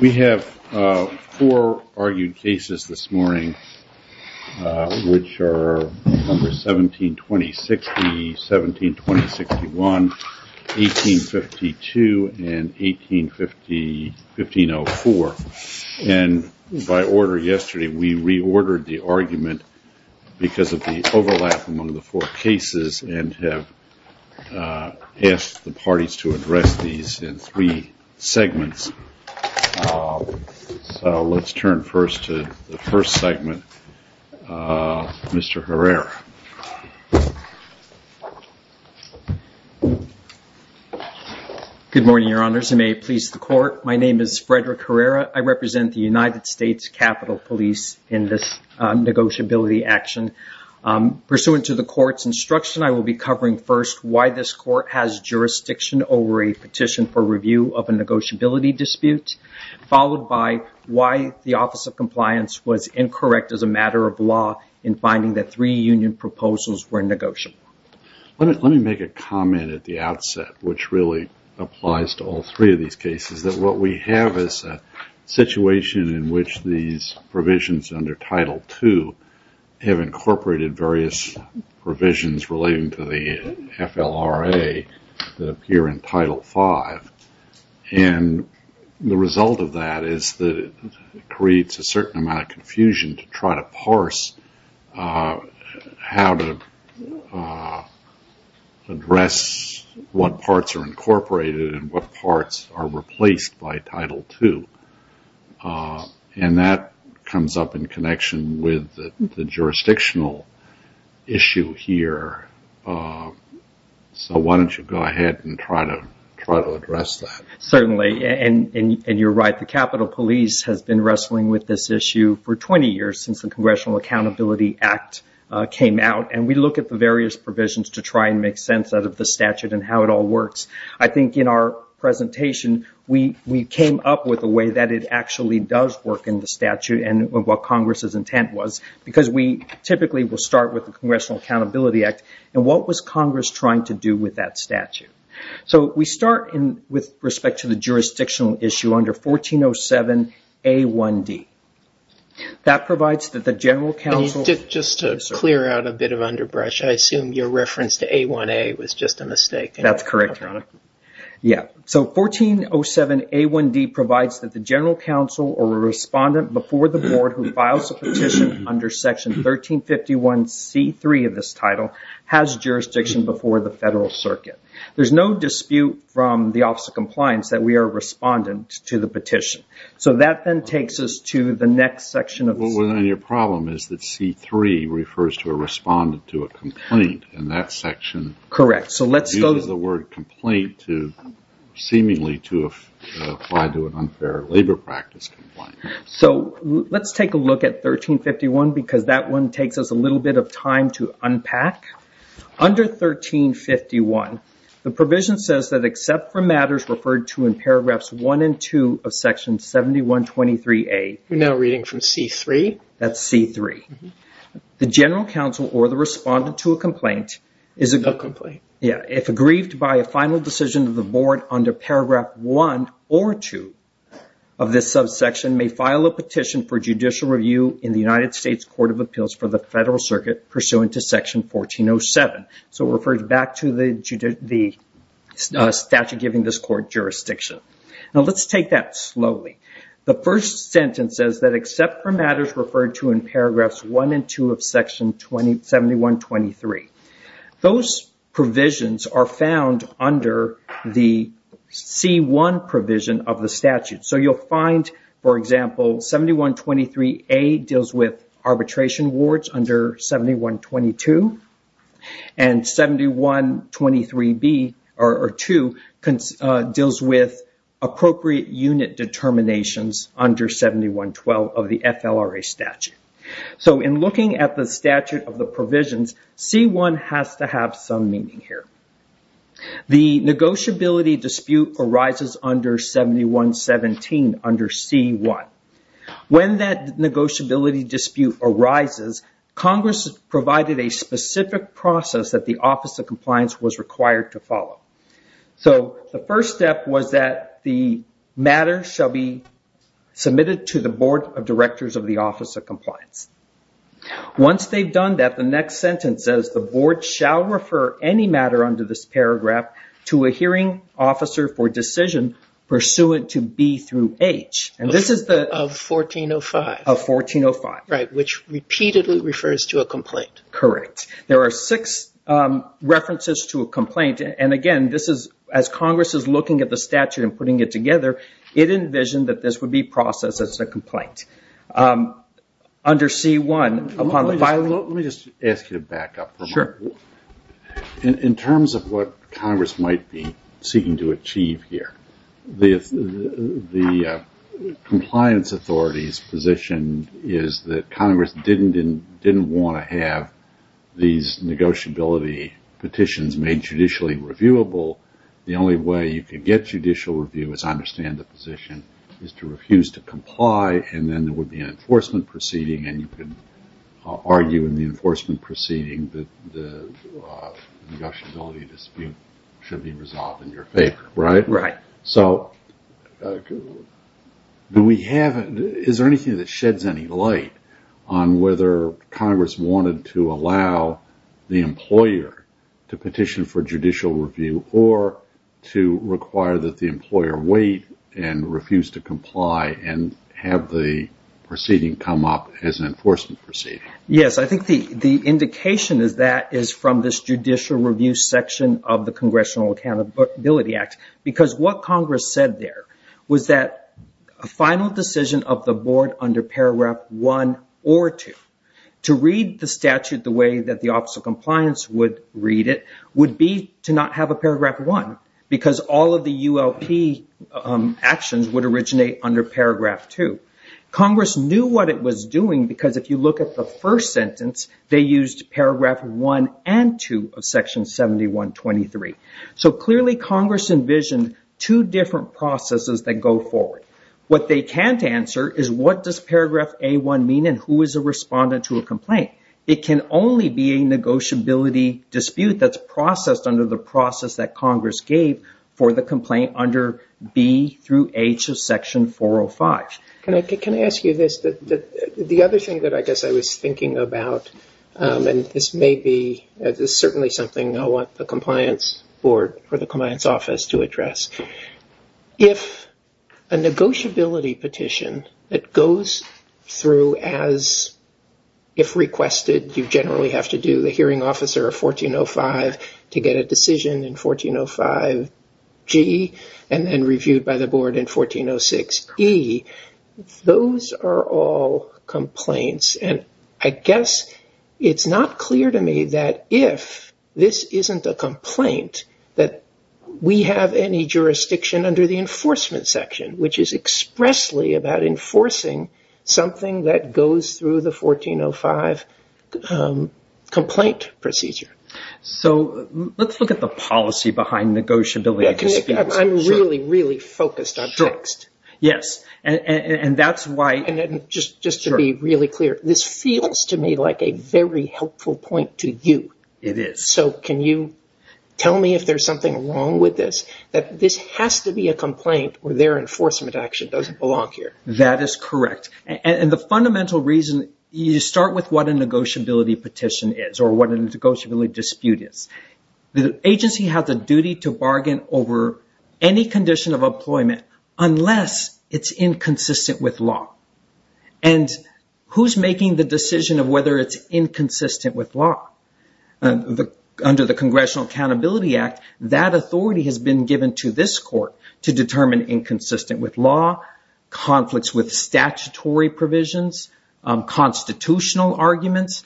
We have four argued cases this morning which are number 17-20-60, 17-20-61, 18-52, and 18-50-15-04. And by order yesterday we reordered the argument because of the overlap among the four cases and have asked the parties to address these in three segments. So let's turn first to the first segment, Mr. Herrera. Good morning, Your Honors, and may it please the Court. My name is Frederick Herrera. I represent the United States Capitol Police in this negotiability action. Pursuant to the Court's instruction, I will be covering first why this Court has jurisdiction over a petition for review of a negotiability dispute, followed by why the Office of Compliance was incorrect as a matter of law in finding that three union proposals were negotiable. Let me make a comment at the outset, which really applies to all three of these cases, is that what we have is a situation in which these provisions under Title II have incorporated various provisions relating to the FLRA that appear in Title V. And the result of that is that it creates a certain amount of confusion to try to parse how to address what parts are incorporated and what parts are replaced by Title II. And that comes up in connection with the jurisdictional issue here. So why don't you go ahead and try to address that? Certainly. And you're right. The Capitol Police has been wrestling with this issue for 20 years since the Congressional Accountability Act came out. And we look at the various provisions to try and make sense out of the statute and how it all works. I think in our presentation, we came up with a way that it actually does work in the statute and what Congress's intent was, because we typically will start with the Congressional Accountability Act. And what was Congress trying to do with that statute? So we start with respect to the jurisdictional issue under 1407A1D. Just to clear out a bit of underbrush, I assume your reference to A1A was just a mistake. That's correct. So 1407A1D provides that the general counsel or respondent before the board who files a petition under Section 1351C3 of this title has jurisdiction before the federal circuit. There's no dispute from the Office of Compliance that we are a respondent to the petition. So that then takes us to the next section of the statute. Well, then your problem is that C3 refers to a respondent to a complaint in that section. Correct. So let's go... It uses the word complaint seemingly to apply to an unfair labor practice. So let's take a look at 1351, because that one takes us a little bit of time to unpack. Under 1351, the provision says that except for matters referred to in paragraphs 1 and 2 of Section 7123A... We're now reading from C3. That's C3. The general counsel or the respondent to a complaint is... A complaint. Yeah. If aggrieved by a final decision of the board under paragraph 1 or 2 of this subsection, may file a petition for judicial review in the United States Court of Appeals for the federal circuit pursuant to Section 1407. So it refers back to the statute giving this court jurisdiction. Now, let's take that slowly. The first sentence says that except for matters referred to in paragraphs 1 and 2 of Section 7123. Those provisions are found under the C1 provision of the statute. So you'll find, for example, 7123A deals with arbitration wards under 7122. And 7123B or 2 deals with appropriate unit determinations under 7112 of the FLRA statute. So in looking at the statute of the provisions, C1 has to have some meaning here. The negotiability dispute arises under 7117 under C1. When that negotiability dispute arises, Congress provided a specific process that the Office of Compliance was required to follow. So the first step was that the matter shall be submitted to the Board of Directors of the Office of Compliance. Once they've done that, the next sentence says the Board shall refer any matter under this paragraph to a hearing officer for decision pursuant to B through H. And this is the... Of 1405. Of 1405. Right, which repeatedly refers to a complaint. Correct. There are six references to a complaint. And, again, this is as Congress is looking at the statute and putting it together, it envisioned that this would be processed as a complaint. Under C1... Let me just ask you to back up for a moment. Sure. In terms of what Congress might be seeking to achieve here, the Compliance Authority's position is that Congress didn't want to have these negotiability petitions made judicially reviewable. The only way you can get judicial review, as I understand the position, is to refuse to comply, and then there would be an enforcement proceeding, and you can argue in the enforcement proceeding that the negotiability dispute should be resolved in your favor, right? Right. Is there anything that sheds any light on whether Congress wanted to allow the employer to petition for judicial review or to require that the employer wait and refuse to comply and have the proceeding come up as an enforcement proceeding? Yes, I think the indication of that is from this judicial review section of the Congressional Accountability Act. Because what Congress said there was that a final decision of the board under Paragraph 1 or 2 to read the statute the way that the Office of Compliance would read it would be to not have a Paragraph 1, because all of the ULP actions would originate under Paragraph 2. Congress knew what it was doing, because if you look at the first sentence, they used Paragraph 1 and 2 of Section 7123. So clearly Congress envisioned two different processes that go forward. What they can't answer is what does Paragraph A1 mean and who is a respondent to a complaint? It can only be a negotiability dispute that's processed under the process that Congress gave for the complaint under B through H of Section 405. Can I ask you this? The other thing that I guess I was thinking about, and this may be certainly something I'll want the Compliance Board or the Compliance Office to address. If a negotiability petition that goes through as if requested, you generally have to do the hearing officer of 1405 to get a decision in 1405G and then reviewed by the board in 1406E, those are all complaints. I guess it's not clear to me that if this isn't a complaint that we have any jurisdiction under the enforcement section, which is expressly about enforcing something that goes through the 1405 complaint procedure. So let's look at the policy behind negotiability. I'm really, really focused on text. Just to be really clear, this feels to me like a very helpful point to you. It is. So can you tell me if there's something wrong with this? This has to be a complaint where their enforcement action doesn't belong here. That is correct. And the fundamental reason, you start with what a negotiability petition is or what a negotiability dispute is. The agency has a duty to bargain over any condition of employment unless it's inconsistent with law. And who's making the decision of whether it's inconsistent with law? Under the Congressional Accountability Act, that authority has been given to this court to determine inconsistent with law, conflicts with statutory provisions, constitutional arguments.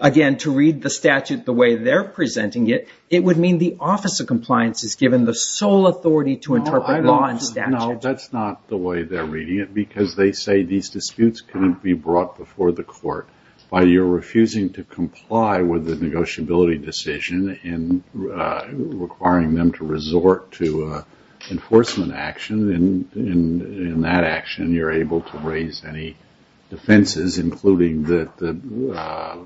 Again, to read the statute the way they're presenting it, it would mean the Office of Compliance is given the sole authority to interpret law and statute. No, that's not the way they're reading it because they say these disputes couldn't be brought before the court. While you're refusing to comply with the negotiability decision and requiring them to resort to enforcement action, in that action you're able to raise any defenses, including that the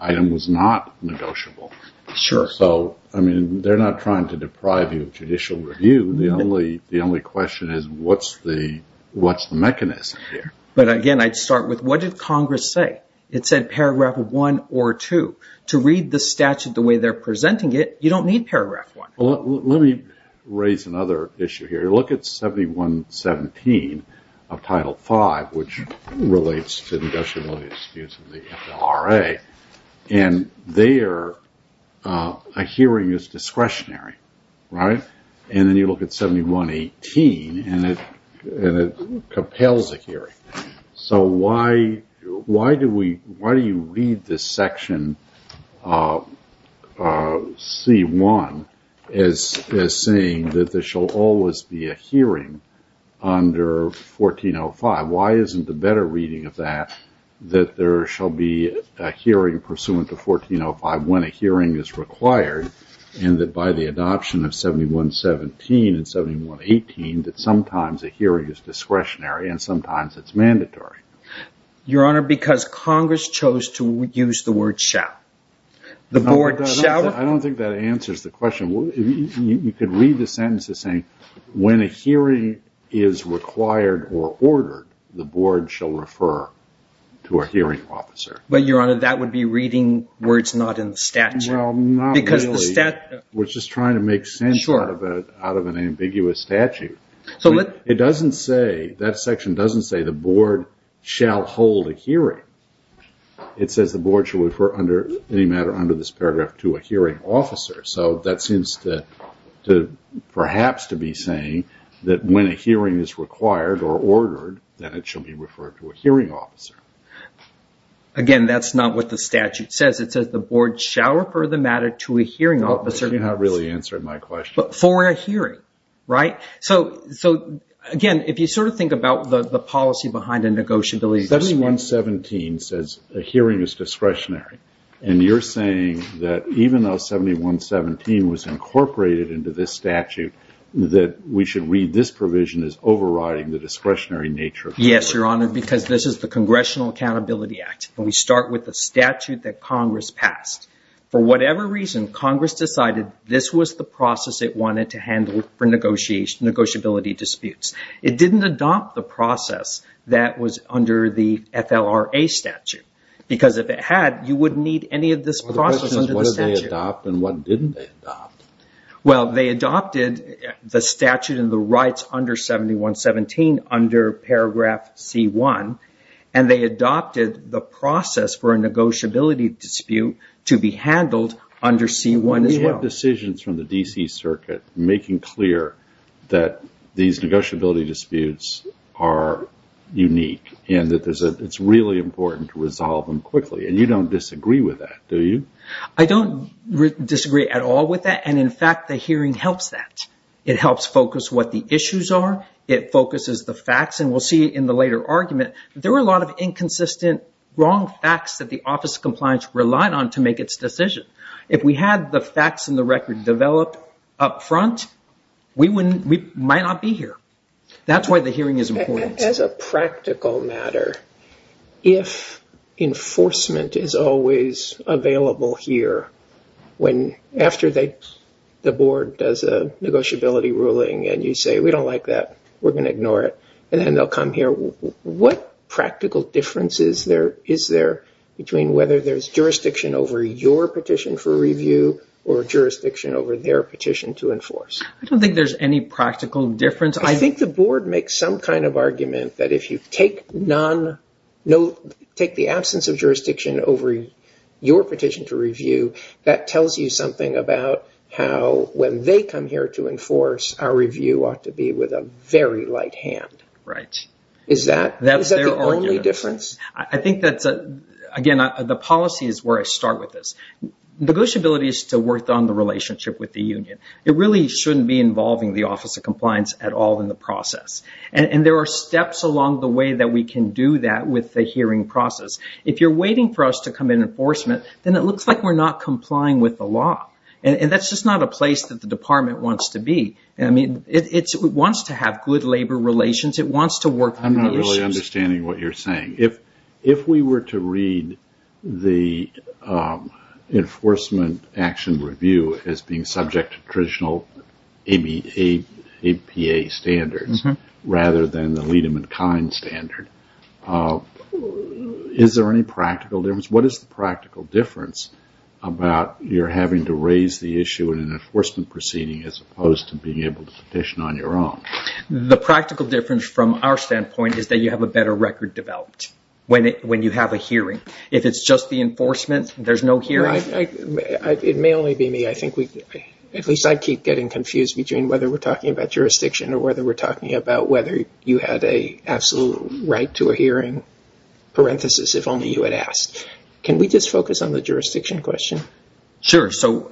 item was not negotiable. Sure. So, I mean, they're not trying to deprive you of judicial review. The only question is what's the mechanism here? But again, I'd start with what did Congress say? It said paragraph one or two. To read the statute the way they're presenting it, you don't need paragraph one. Let me raise another issue here. Look at 7117 of Title V, which relates to negotiability disputes with the FLRA. And there, a hearing is discretionary, right? And then you look at 7118 and it compels a hearing. So why do you read this section C1 as saying that there shall always be a hearing under 1405? Why isn't the better reading of that that there shall be a hearing pursuant to 1405 when a hearing is required and that by the adoption of 7117 and 7118 that sometimes a hearing is discretionary and sometimes it's mandatory? Your Honor, because Congress chose to use the word shall. I don't think that answers the question. You could read the sentence as saying when a hearing is required or ordered, the board shall refer to a hearing officer. But, Your Honor, that would be reading words not in statute. No, not really. Because the statute... We're just trying to make sense out of an ambiguous statute. So let's... It doesn't say, that section doesn't say the board shall hold a hearing. It says the board shall refer under any matter under this paragraph to a hearing officer. So that seems to perhaps to be saying that when a hearing is required or ordered, that it shall be referred to a hearing officer. Again, that's not what the statute says. It says the board shall refer the matter to a hearing officer. It did not really answer my question. For a hearing, right? So, again, if you sort of think about the policy behind a negotiability... 7117 says a hearing is discretionary. And you're saying that even though 7117 was incorporated into this statute, that we should read this provision as overriding the discretionary nature of... Yes, Your Honor, because this is the Congressional Accountability Act. And we start with the statute that Congress passed. For whatever reason, Congress decided this was the process it wanted to handle for negotiability disputes. It didn't adopt the process that was under the FLRA statute. Because if it had, you wouldn't need any of this process under the statute. The question is what did they adopt and what didn't they adopt? Well, they adopted the statute and the rights under 7117 under paragraph C-1. And they adopted the process for a negotiability dispute to be handled under C-1 as well. There are decisions from the D.C. Circuit making clear that these negotiability disputes are unique and that it's really important to resolve them quickly. And you don't disagree with that, do you? I don't disagree at all with that. And, in fact, the hearing helps that. It helps focus what the issues are. It focuses the facts. And we'll see in the later argument, there were a lot of inconsistent, wrong facts that the Office of Compliance relied on to make its decision. If we had the facts and the record developed up front, we might not be here. That's why the hearing is important. As a practical matter, if enforcement is always available here after the board does a negotiability ruling and you say, we don't like that, we're going to ignore it, and then they'll come here, what practical difference is there between whether there's jurisdiction over your petition for review or jurisdiction over their petition to enforce? I don't think there's any practical difference. I think the board makes some kind of argument that if you take the absence of jurisdiction over your petition to review, that tells you something about how when they come here to enforce, our review ought to be with a very light hand. Is that the only difference? I think that, again, the policy is where I start with this. Negotiability is to work on the relationship with the union. It really shouldn't be involving the Office of Compliance at all in the process. And there are steps along the way that we can do that with the hearing process. If you're waiting for us to come in enforcement, then it looks like we're not complying with the law. And that's just not a place that the department wants to be. It wants to have good labor relations. It wants to work on the issues. I'm not really understanding what you're saying. If we were to read the enforcement action review as being subject to traditional APA standards rather than the lead-in-kind standard, is there any practical difference? What is the practical difference about your having to raise the issue in an enforcement proceeding as opposed to being able to petition on your own? The practical difference from our standpoint is that you have a better record developed when you have a hearing. If it's just the enforcement, there's no hearing. It may only be me. At least I keep getting confused between whether we're talking about jurisdiction or whether we're talking about whether you have an absolute right to a hearing, parenthesis, if only you had asked. Can we just focus on the jurisdiction question? Sure. So,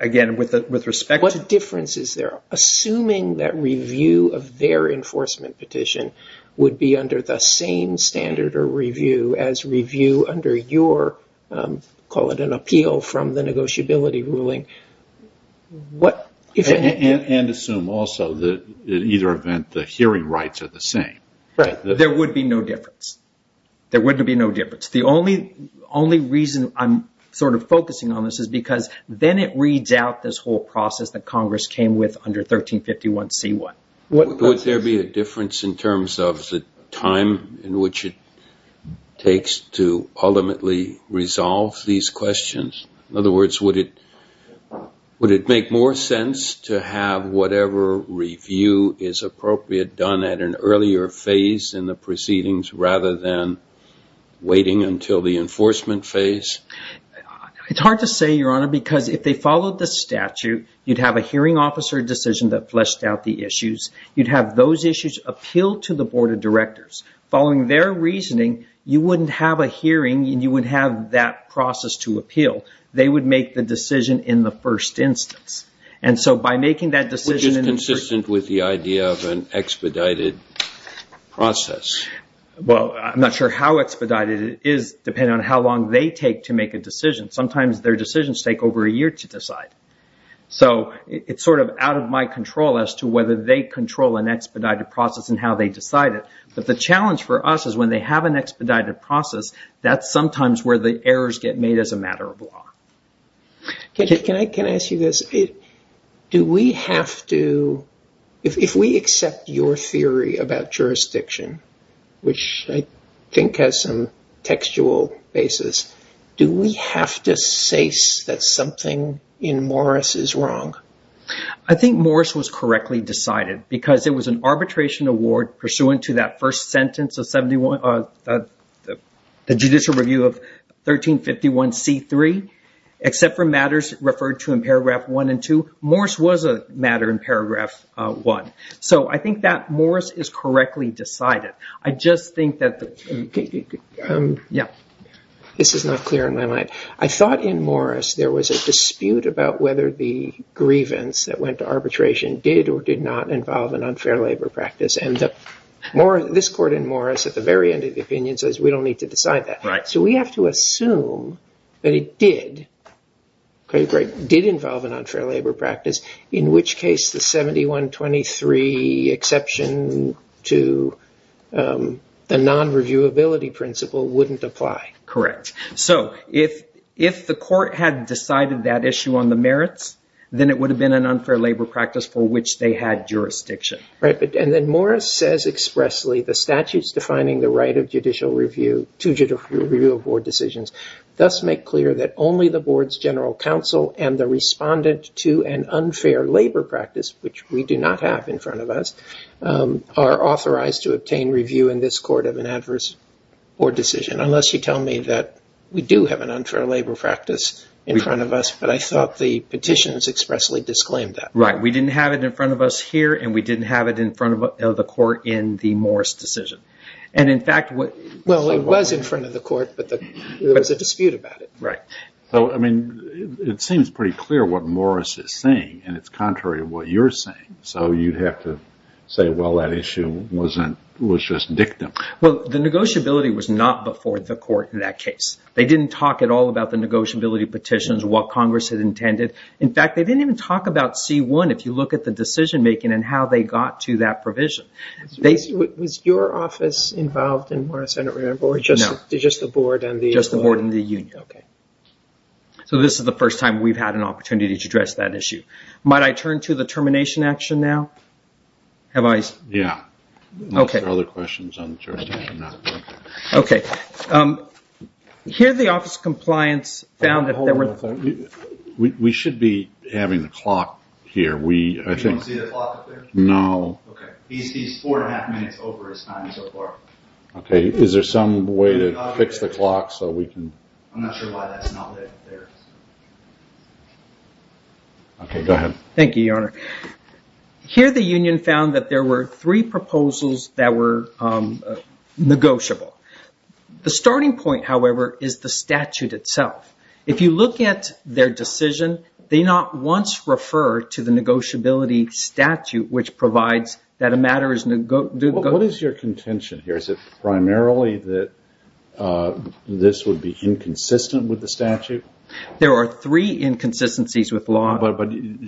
again, with respect to... What difference is there? Assuming that review of their enforcement petition would be under the same standard or review as review under your, call it an appeal from the negotiability ruling, what... And assume also that in either event, the hearing rights are the same. Right. There would be no difference. There would be no difference. The only reason I'm sort of focusing on this is because then it reads out this whole process that Congress came with under 1351C1. Would there be a difference in terms of the time in which it takes to ultimately resolve these questions? In other words, would it make more sense to have whatever review is appropriate done at an earlier phase in the proceedings rather than waiting until the enforcement phase? It's hard to say, Your Honor, because if they followed the statute, you'd have a hearing officer decision that fleshed out the issues. You'd have those issues appealed to the board of directors. Following their reasoning, you wouldn't have a hearing and you wouldn't have that process to appeal. They would make the decision in the first instance. And so by making that decision... Would it be consistent with the idea of an expedited process? Well, I'm not sure how expedited it is depending on how long they take to make a decision. Sometimes their decisions take over a year to decide. So it's sort of out of my control as to whether they control an expedited process and how they decide it. But the challenge for us is when they have an expedited process, that's sometimes where the errors get made as a matter of law. Can I ask you this? Do we have to... If we accept your theory about jurisdiction, which I think has some textual basis, do we have to say that something in Morris is wrong? I think Morris was correctly decided because it was an arbitration award pursuant to that first sentence of the judicial review of 1351C3. Except for matters referred to in paragraph 1 and 2, Morris was a matter in paragraph 1. So I think that Morris is correctly decided. I just think that... This is not clear in my mind. I thought in Morris there was a dispute about whether the grievance that went to arbitration did or did not involve an unfair labor practice. And this court in Morris at the very end of the opinion says we don't need to decide that. So we have to assume that it did involve an unfair labor practice, in which case the 7123 exception to the non-reviewability principle wouldn't apply. Correct. So if the court had decided that issue on the merits, then it would have been an unfair labor practice for which they had jurisdiction. Right. And then Morris says expressly the statutes defining the right of judicial review to judicial review of board decisions thus make clear that only the board's general counsel and the respondent to an unfair labor practice, which we do not have in front of us, are authorized to obtain review in this court of an adverse board decision. Unless you tell me that we do have an unfair labor practice in front of us, but I thought the petitions expressly disclaimed that. Right. We didn't have it in front of us here, and we didn't have it in front of the court in the Morris decision. Well, it was in front of the court, but there was a dispute about it. Right. So, I mean, it seems pretty clear what Morris is saying, and it's contrary to what you're saying. So you'd have to say, well, that issue was just dictum. Well, the negotiability was not before the court in that case. They didn't talk at all about the negotiability petitions, what Congress had intended. In fact, they didn't even talk about C-1 if you look at the decision-making and how they got to that provision. Was your office involved in Morris? I don't remember. No. Or just the board? Just the board and the union. Okay. So this is the first time we've had an opportunity to address that issue. Might I turn to the termination action now? Have I? Yeah. Okay. There are other questions on termination now. Okay. Here the office of compliance found that there were... We should be having a clock here. We, I think... Do you see the clock up there? No. Okay. He sees four and a half minutes over his time so far. Okay. Is there some way to fix the clock so we can... I'm not sure why that's not there. Okay. Go ahead. Thank you, Your Honor. Here the union found that there were three proposals that were negotiable. The starting point, however, is the statute itself. If you look at their decision, they not once refer to the negotiability statute, which provides that a matter is... What is your contention here? Is it primarily that this would be inconsistent with the statute? There are three inconsistencies with law. But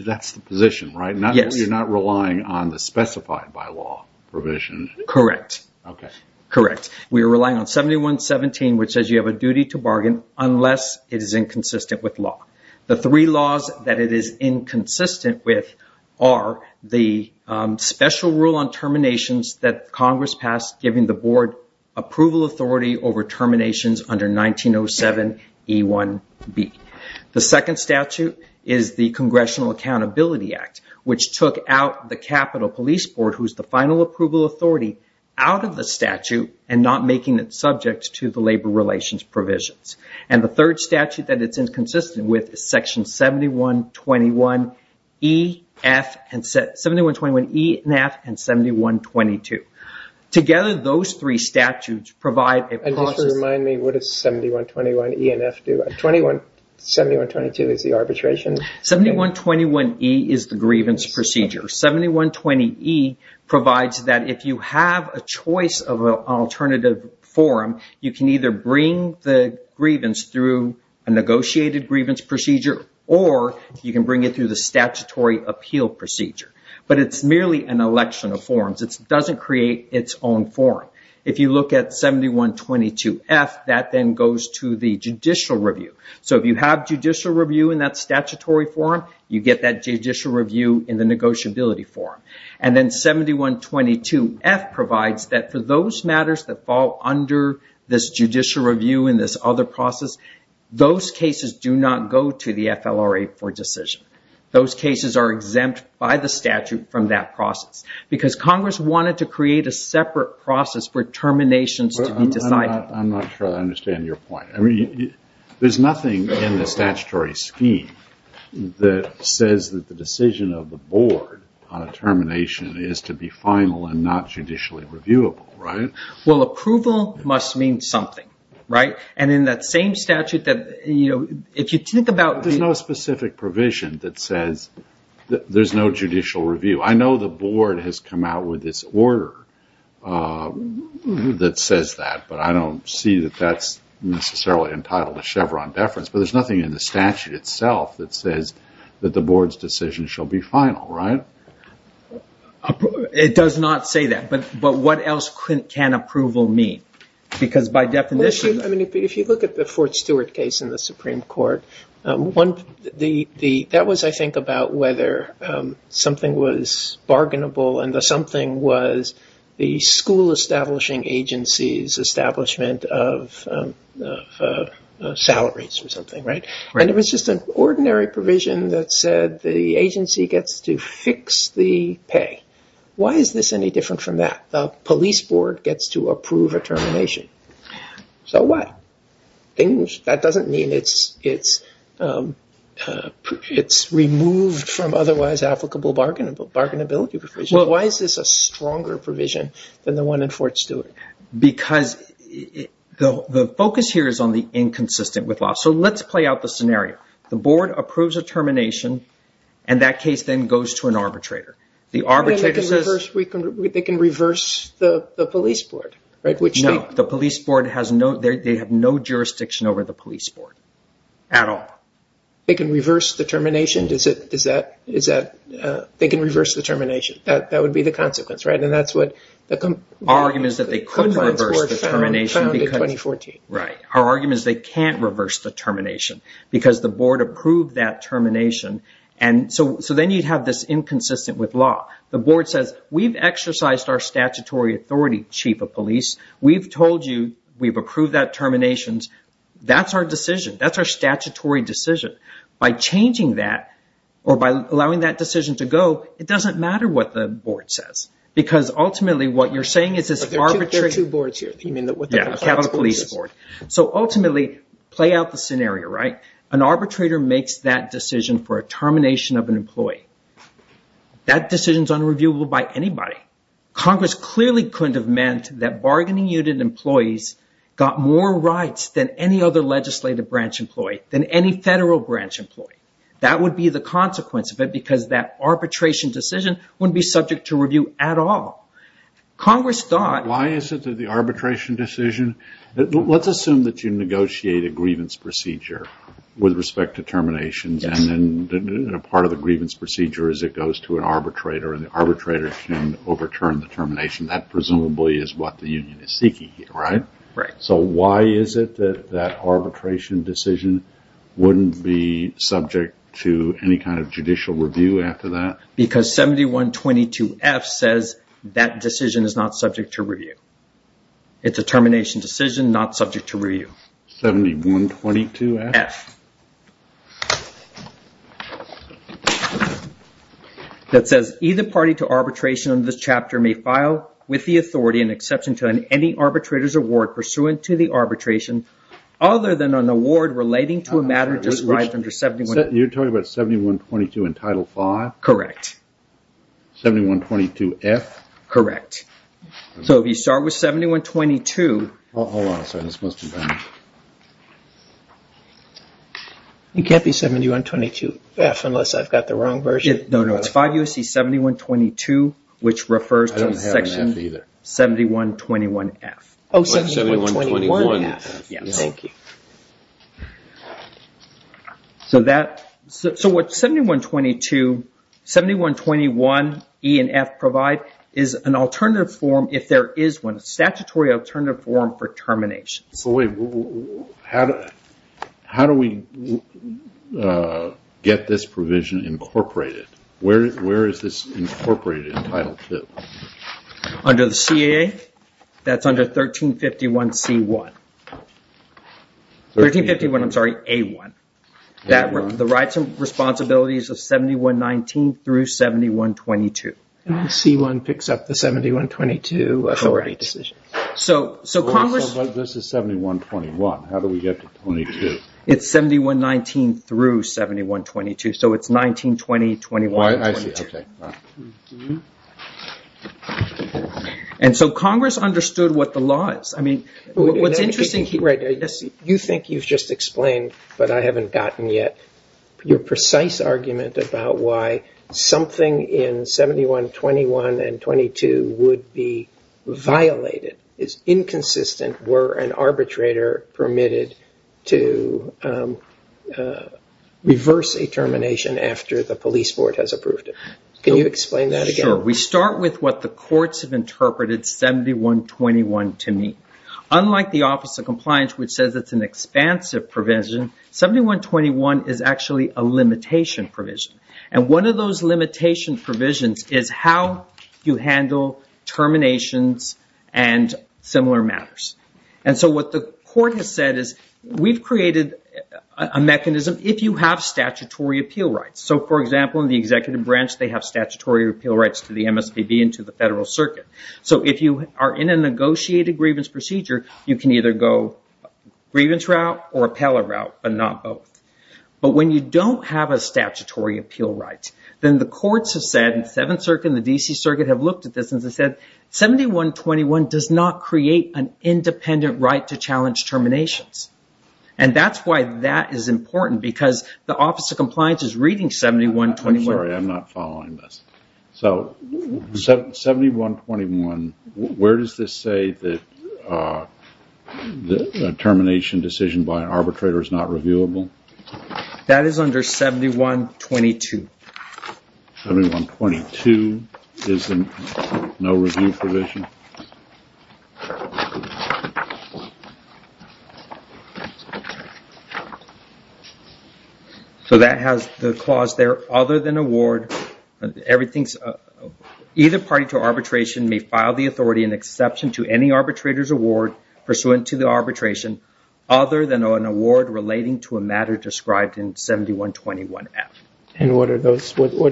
that's the position, right? Yes. You're not relying on the specified by law provisions. Correct. Okay. Correct. We are relying on 7117, which says you have a duty to bargain unless it is inconsistent with law. The three laws that it is inconsistent with are the special rule on terminations that Congress passed giving the board approval authority over terminations under 1907E1B. The second statute is the Congressional Accountability Act, which took out the Capitol Police Board, who is the final approval authority, out of the statute and not making it subject to the labor relations provisions. And the third statute that it's inconsistent with is section 7121E and 7122. Together, those three statutes provide... And just to remind me, what does 7121E and 7122 do? 7122 is the arbitration? 7121E is the grievance procedure. 7120E provides that if you have a choice of an alternative form, you can either bring the grievance through a negotiated grievance procedure or you can bring it through the statutory appeal procedure. But it's merely an election of forms. It doesn't create its own form. If you look at 7122F, that then goes to the judicial review. So if you have judicial review in that statutory form, you get that judicial review in the negotiability form. And then 7122F provides that for those matters that fall under this judicial review and this other process, those cases do not go to the FLRA for decision. Those cases are exempt by the statute from that process because Congress wanted to create a separate process for terminations to be decided. I'm not sure I understand your point. There's nothing in the statutory scheme that says that the decision of the board on a termination is to be final and not judicially reviewable, right? Well, approval must mean something, right? And in that same statute that, you know, if you think about... There's no specific provision that says there's no judicial review. I know the board has come out with its order that says that, but I don't see that that's necessarily entitled to Chevron deference. But there's nothing in the statute itself that says that the board's decision shall be final, right? It does not say that, but what else can approval mean? Because by definition... If you look at the Fort Stewart case in the Supreme Court, that was, I think, about whether something was bargainable and the something was the school establishing agency's establishment of salaries or something, right? And it was just an ordinary provision that said the agency gets to fix the pay. Why is this any different from that? The police board gets to approve a termination. So what? That doesn't mean it's removed from otherwise applicable bargainability provisions. Why is this a stronger provision than the one in Fort Stewart? Because the focus here is on the inconsistent with law. So let's play out the scenario. The board approves a termination, and that case then goes to an arbitrator. The arbitrator says... They can reverse the police board, right? No, the police board has no... They have no jurisdiction over the police board at all. They can reverse the termination? Is that... They can reverse the termination. That would be the consequence, right? And that's what... Our argument is that they couldn't reverse the termination. Right. Our argument is they can't reverse the termination because the board approved that termination. And so then you have this inconsistent with law. The board says, we've exercised our statutory authority, Chief of Police. We've told you we've approved that termination. That's our decision. That's our statutory decision. By changing that or by allowing that decision to go, it doesn't matter what the board says. Because ultimately what you're saying is... There are two boards here. You mean the... Yeah, the police board. So ultimately, play out the scenario, right? An arbitrator makes that decision for a termination of an employee. That decision is unreviewable by anybody. Congress clearly couldn't have meant that bargaining unit employees got more rights than any other legislative branch employee, than any federal branch employee. That would be the consequence of it because that arbitration decision wouldn't be subject to review at all. Congress thought... Why is it that the arbitration decision... Let's assume that you negotiate a grievance procedure with respect to terminations. Yes. Part of the grievance procedure is it goes to an arbitrator, and the arbitrator can overturn the termination. That presumably is what the union is seeking here, right? Right. So why is it that that arbitration decision wouldn't be subject to any kind of judicial review after that? Because 7122F says that decision is not subject to review. It's a termination decision, not subject to review. 7122F? Yes. That says either party to arbitration in this chapter may file with the authority and exception to any arbitrator's award pursuant to the arbitration, other than an award relating to a matter described under 7122F. You're talking about 7122 in Title V? Correct. 7122F? Correct. So if you start with 7122... Hold on a second. This must be done. It can't be 7122F unless I've got the wrong version. No, no. It's 5 U.S.C. 7122, which refers to Section 7121F. Oh, 7121F. Yes. Thank you. So what 7122, 7121E and F provide is an alternative form if there is one, a statutory alternative form for terminations. So wait. How do we get this provision incorporated? Where is this incorporated in Title II? Under the CAA? That's under 1351C1. 1351, I'm sorry, A1. A1. The rights and responsibilities of 7119 through 7122. C1 picks up the 7122 authority decision. This is 7121. How do we get to 7122? It's 7119 through 7122. So it's 1920, 21, 22. I see. And so Congress understood what the law is. You think you've just explained, but I haven't gotten yet, your precise argument about why something in 7121 and 7122 would be violated. It's inconsistent were an arbitrator permitted to reverse a termination after the police board has approved it. Can you explain that again? Sure. We start with what the courts have interpreted 7121 to mean. Unlike the Office of Compliance, which says it's an expansive provision, 7121 is actually a limitation provision. And one of those limitation provisions is how you handle terminations and similar matters. And so what the court has said is we've created a mechanism if you have statutory appeal rights. So, for example, in the executive branch, they have statutory appeal rights to the MSPB and to the federal circuit. So if you are in a negotiated grievance procedure, you can either go grievance route or appellate route, but not both. But when you don't have a statutory appeal right, then the courts have said, 7th Circuit and the D.C. Circuit have looked at this and said, 7121 does not create an independent right to challenge terminations. And that's why that is important, because the Office of Compliance is reading 7121. I'm sorry, I'm not following this. So, 7121, where does this say that a termination decision by an arbitrator is not reviewable? That is under 7122. 7122 is in no review provision. So that has the clause there, other than award. Either party for arbitration may file the authority in exception to any arbitrator's award pursuant to the arbitration, other than an award relating to a matter described in 7121F. And what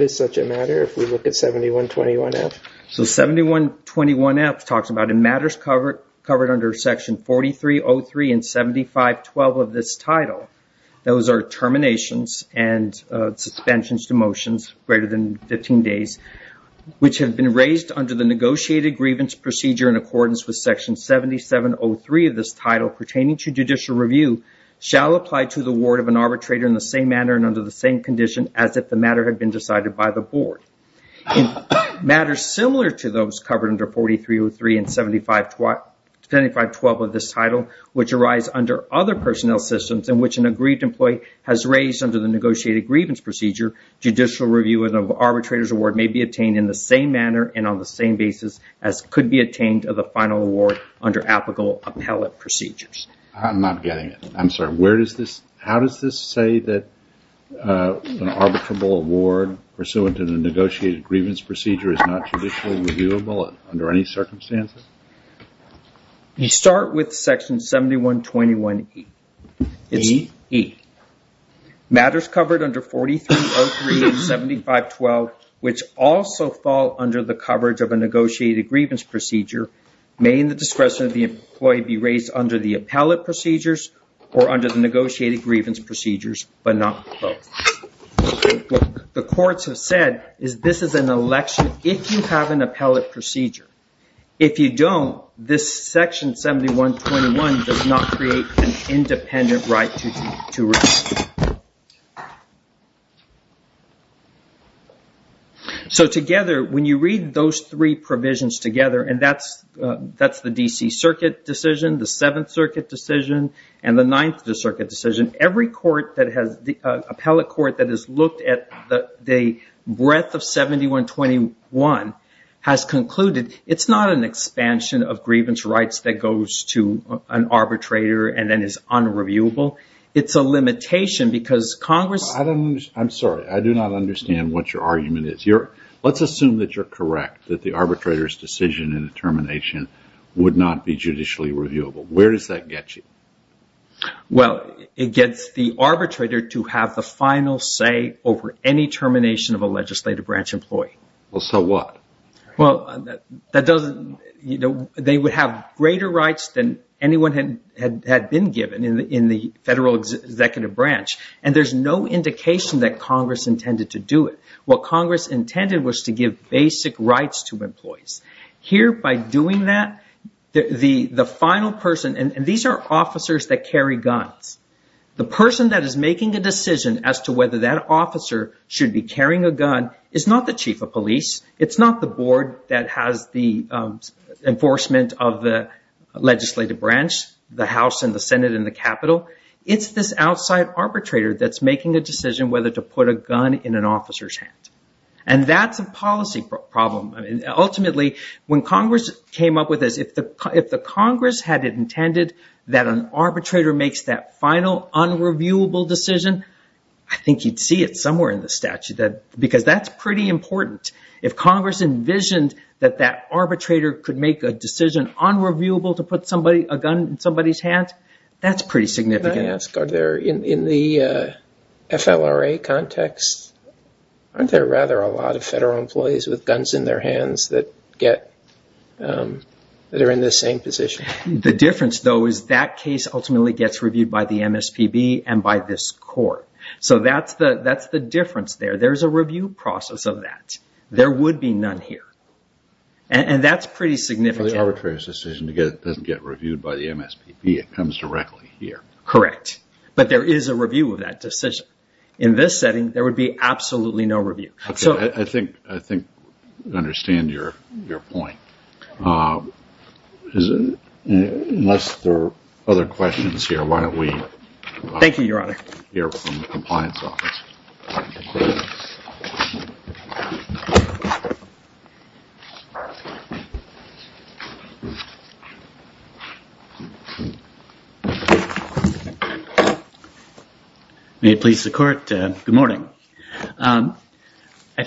is such a matter if we look at 7121F? So 7121F talks about a matter covered under Section 4303 and 7512 of this title. Those are terminations and suspensions to motions greater than 15 days, which have been raised under the negotiated grievance procedure in accordance with Section 7703 of this title pertaining to judicial review, shall apply to the ward of an arbitrator in the same manner and under the same condition as if the matter had been decided by the board. Matters similar to those covered under 4303 and 7512 of this title, which arise under other personnel systems in which an agreed employee has raised under the negotiated grievance procedure, judicial review of an arbitrator's award may be obtained in the same manner and on the same basis as could be obtained as a final award under applicable appellate procedures. I'm not getting it. I'm sorry. How does this say that an arbitrable award pursuant to the negotiated grievance procedure is not judicially reviewable under any circumstances? You start with Section 7121E. Matters covered under 4303 and 7512, which also fall under the coverage of a negotiated grievance procedure, may in the discretion of the employee be raised under the appellate procedures or under the negotiated grievance procedures, but not both. What the courts have said is this is an election if you have an appellate procedure. If you don't, this Section 7121 does not create an independent right to review. So together, when you read those three provisions together, and that's the D.C. Circuit decision, the 7th Circuit decision, and the 9th Circuit decision, every appellate court that has looked at the breadth of 7121 has concluded it's not an expansion of grievance rights that goes to an arbitrator and then is unreviewable. It's a limitation because Congress... I'm sorry. I do not understand what your argument is. Let's assume that you're correct, that the arbitrator's decision in the termination would not be judicially reviewable. Where does that get you? Well, it gets the arbitrator to have the final say over any termination of a legislative branch employee. Well, so what? Well, that doesn't... You know, they would have greater rights than anyone had been given in the federal executive branch, and there's no indication that Congress intended to do it. What Congress intended was to give basic rights to employees. Here, by doing that, the final person... And these are officers that carry guns. The person that is making the decision as to whether that officer should be carrying a gun is not the chief of police. It's not the board that has the enforcement of the legislative branch, the House and the Senate and the Capitol. It's this outside arbitrator that's making a decision whether to put a gun in an officer's hand. And that's a policy problem. Ultimately, when Congress came up with it, if the Congress had intended that an arbitrator makes that final unreviewable decision, I think you'd see it somewhere in the statute, because that's pretty important. If Congress envisioned that that arbitrator could make a decision unreviewable to put a gun in somebody's hand, that's pretty significant. In the FLRA context, aren't there rather a lot of federal employees with guns in their hands that are in the same position? The difference, though, is that case ultimately gets reviewed by the MSPB and by this court. So that's the difference there. There's a review process of that. There would be none here, and that's pretty significant. The arbitrator's decision doesn't get reviewed by the MSPB. It comes directly here. Correct. But there is a review of that decision. In this setting, there would be absolutely no review. I think I understand your point. Unless there are other questions here, why don't we hear from the Compliance Office. May it please the Court, good morning. I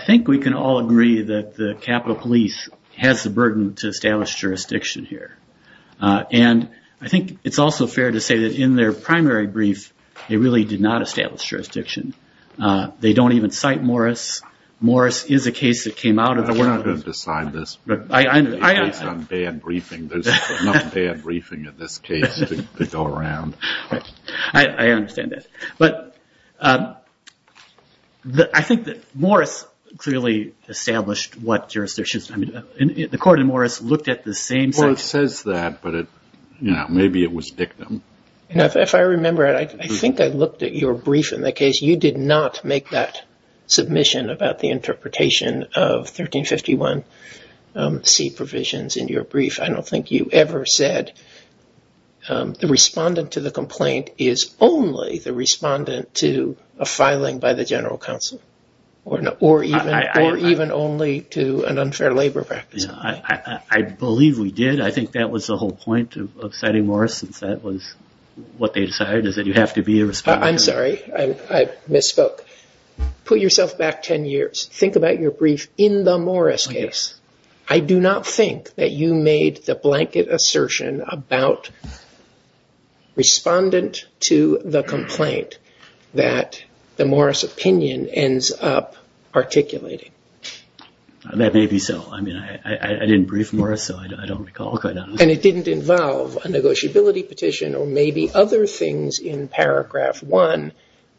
think we can all agree that the Capitol Police has the burden to establish jurisdiction here. And I think it's also fair to say that in their primary brief, they really did not establish jurisdiction. They don't even cite Morris. Morris is a case that came out of the- I'm not going to decide this, but based on bad briefing, there's not bad briefing in this case to go around. I understand that. But I think that Morris really established what jurisdiction. The Court of Morris looked at the same thing. Well, it says that, but maybe it was dictum. If I remember, I think I looked at your brief in that case. You did not make that submission about the interpretation of 1351C provisions in your brief. I don't think you ever said the respondent to the complaint is only the respondent to a filing by the General Counsel. Or even only to an unfair labor practice. I believe we did. I think that was the whole point of citing Morris. That was what they decided is that you have to be a respondent. I'm sorry. I misspoke. Put yourself back 10 years. Think about your brief in the Morris case. I do not think that you made the blanket assertion about respondent to the complaint that the Morris opinion ends up articulating. That may be so. I didn't brief Morris, so I don't recall. And it didn't involve a negotiability petition or maybe other things in paragraph 1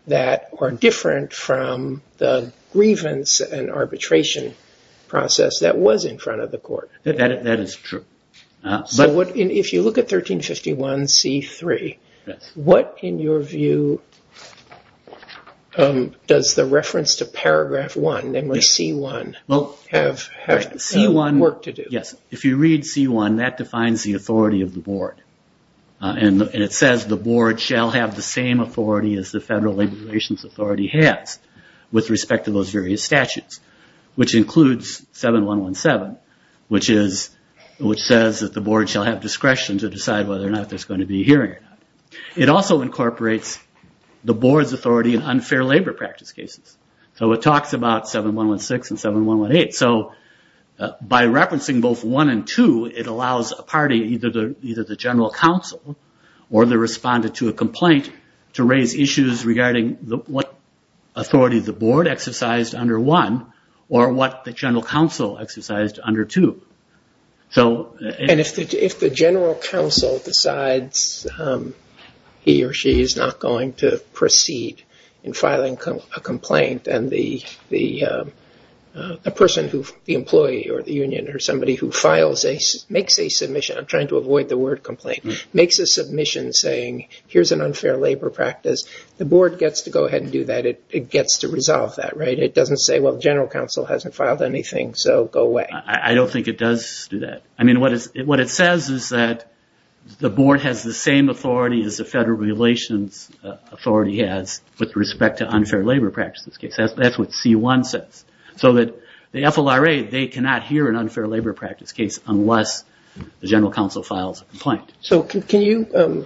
that are different from the grievance and arbitration process that was in front of the court. That is true. If you look at 1351C3, what in your view does the reference to paragraph 1, memory C1, have to do? If you read C1, that defines the authority of the board. And it says the board shall have the same authority as the Federal Labor Relations Authority has with respect to those various statutes. Which includes 7117, which says that the board shall have discretion to decide whether or not there's going to be a hearing. It also incorporates the board's authority in unfair labor practice cases. So it talks about 7116 and 7118. By referencing both 1 and 2, it allows a party, either the general counsel or the respondent to a complaint, to raise issues regarding what authority the board exercised under 1 or what the general counsel exercised under 2. If the general counsel decides he or she is not going to proceed in filing a complaint, then the person, the employee or the union or somebody who makes a submission, I'm trying to avoid the word complaint, makes a submission saying here's an unfair labor practice, the board gets to go ahead and do that. It gets to resolve that, right? It doesn't say, well, general counsel hasn't filed anything, so go away. I don't think it does do that. I mean, what it says is that the board has the same authority as the Federal Relations Authority has with respect to unfair labor practice cases. That's what C1 says. So the FLRA, they cannot hear an unfair labor practice case unless the general counsel files a complaint. So can you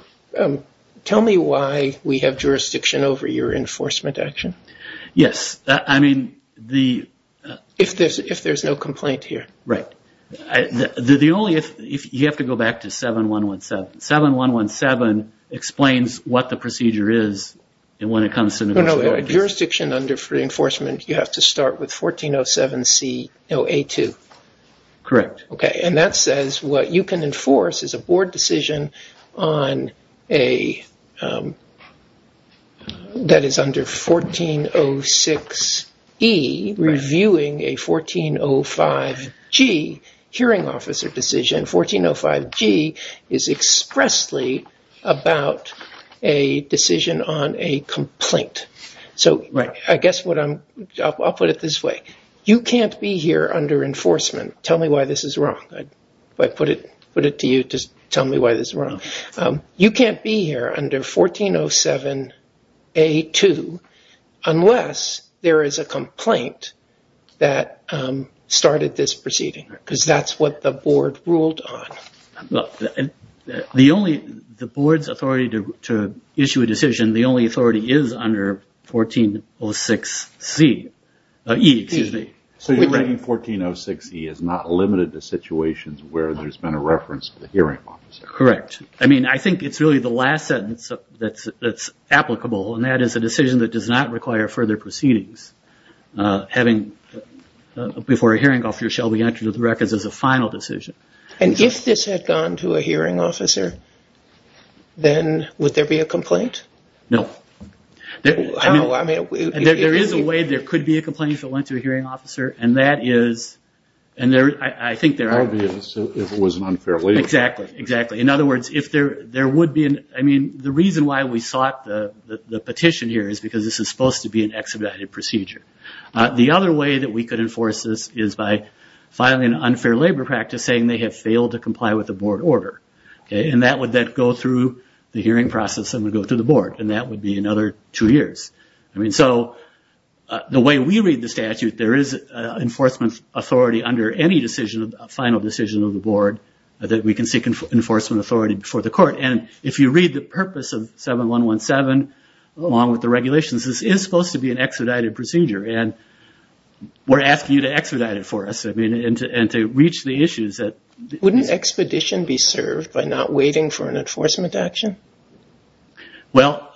tell me why we have jurisdiction over your enforcement action? Yes. If there's no complaint here. Right. The only, you have to go back to 7117. 7117 explains what the procedure is and when it comes to the board. No, no. Jurisdiction under enforcement, you have to start with 1407C082. Correct. Okay, and that says what you can enforce is a board decision on a, that is under 1406E, reviewing a 1405G hearing officer decision. 1405G is expressly about a decision on a complaint. So, I guess what I'm, I'll put it this way. You can't be here under enforcement. Tell me why this is wrong. If I put it to you, just tell me why this is wrong. You can't be here under 1407A2 unless there is a complaint that started this proceeding because that's what the board ruled on. Well, the only, the board's authority to issue a decision, the only authority is under 1406E. So, you're saying 1406E is not limited to situations where there's been a reference to the hearing officer? Correct. I mean, I think it's really the last sentence that's applicable, and that is a decision that does not require further proceedings. Having, before a hearing officer shall be entered into the records as a final decision. And if this had gone to a hearing officer, then would there be a complaint? No. How, I mean. There is a way there could be a complaint that went to a hearing officer, and that is, and there is, I think there are. Obvious, if it was an unfair labor practice. Exactly, exactly. In other words, if there, there would be an, I mean, the reason why we sought the petition here is because this is supposed to be an expedited procedure. The other way that we could enforce this is by filing an unfair labor practice saying they have failed to comply with the board order. And that would then go through the hearing process and would go through the board. And that would be another two years. I mean, so, the way we read the statute, there is an enforcement authority under any decision, a final decision of the board, that we can seek enforcement authority before the court. And if you read the purpose of 7117, along with the regulations, this is supposed to be an expedited procedure. And we're asking you to expedite it for us. I mean, and to reach the issues that. Wouldn't expedition be served by not waiting for an enforcement action? Well,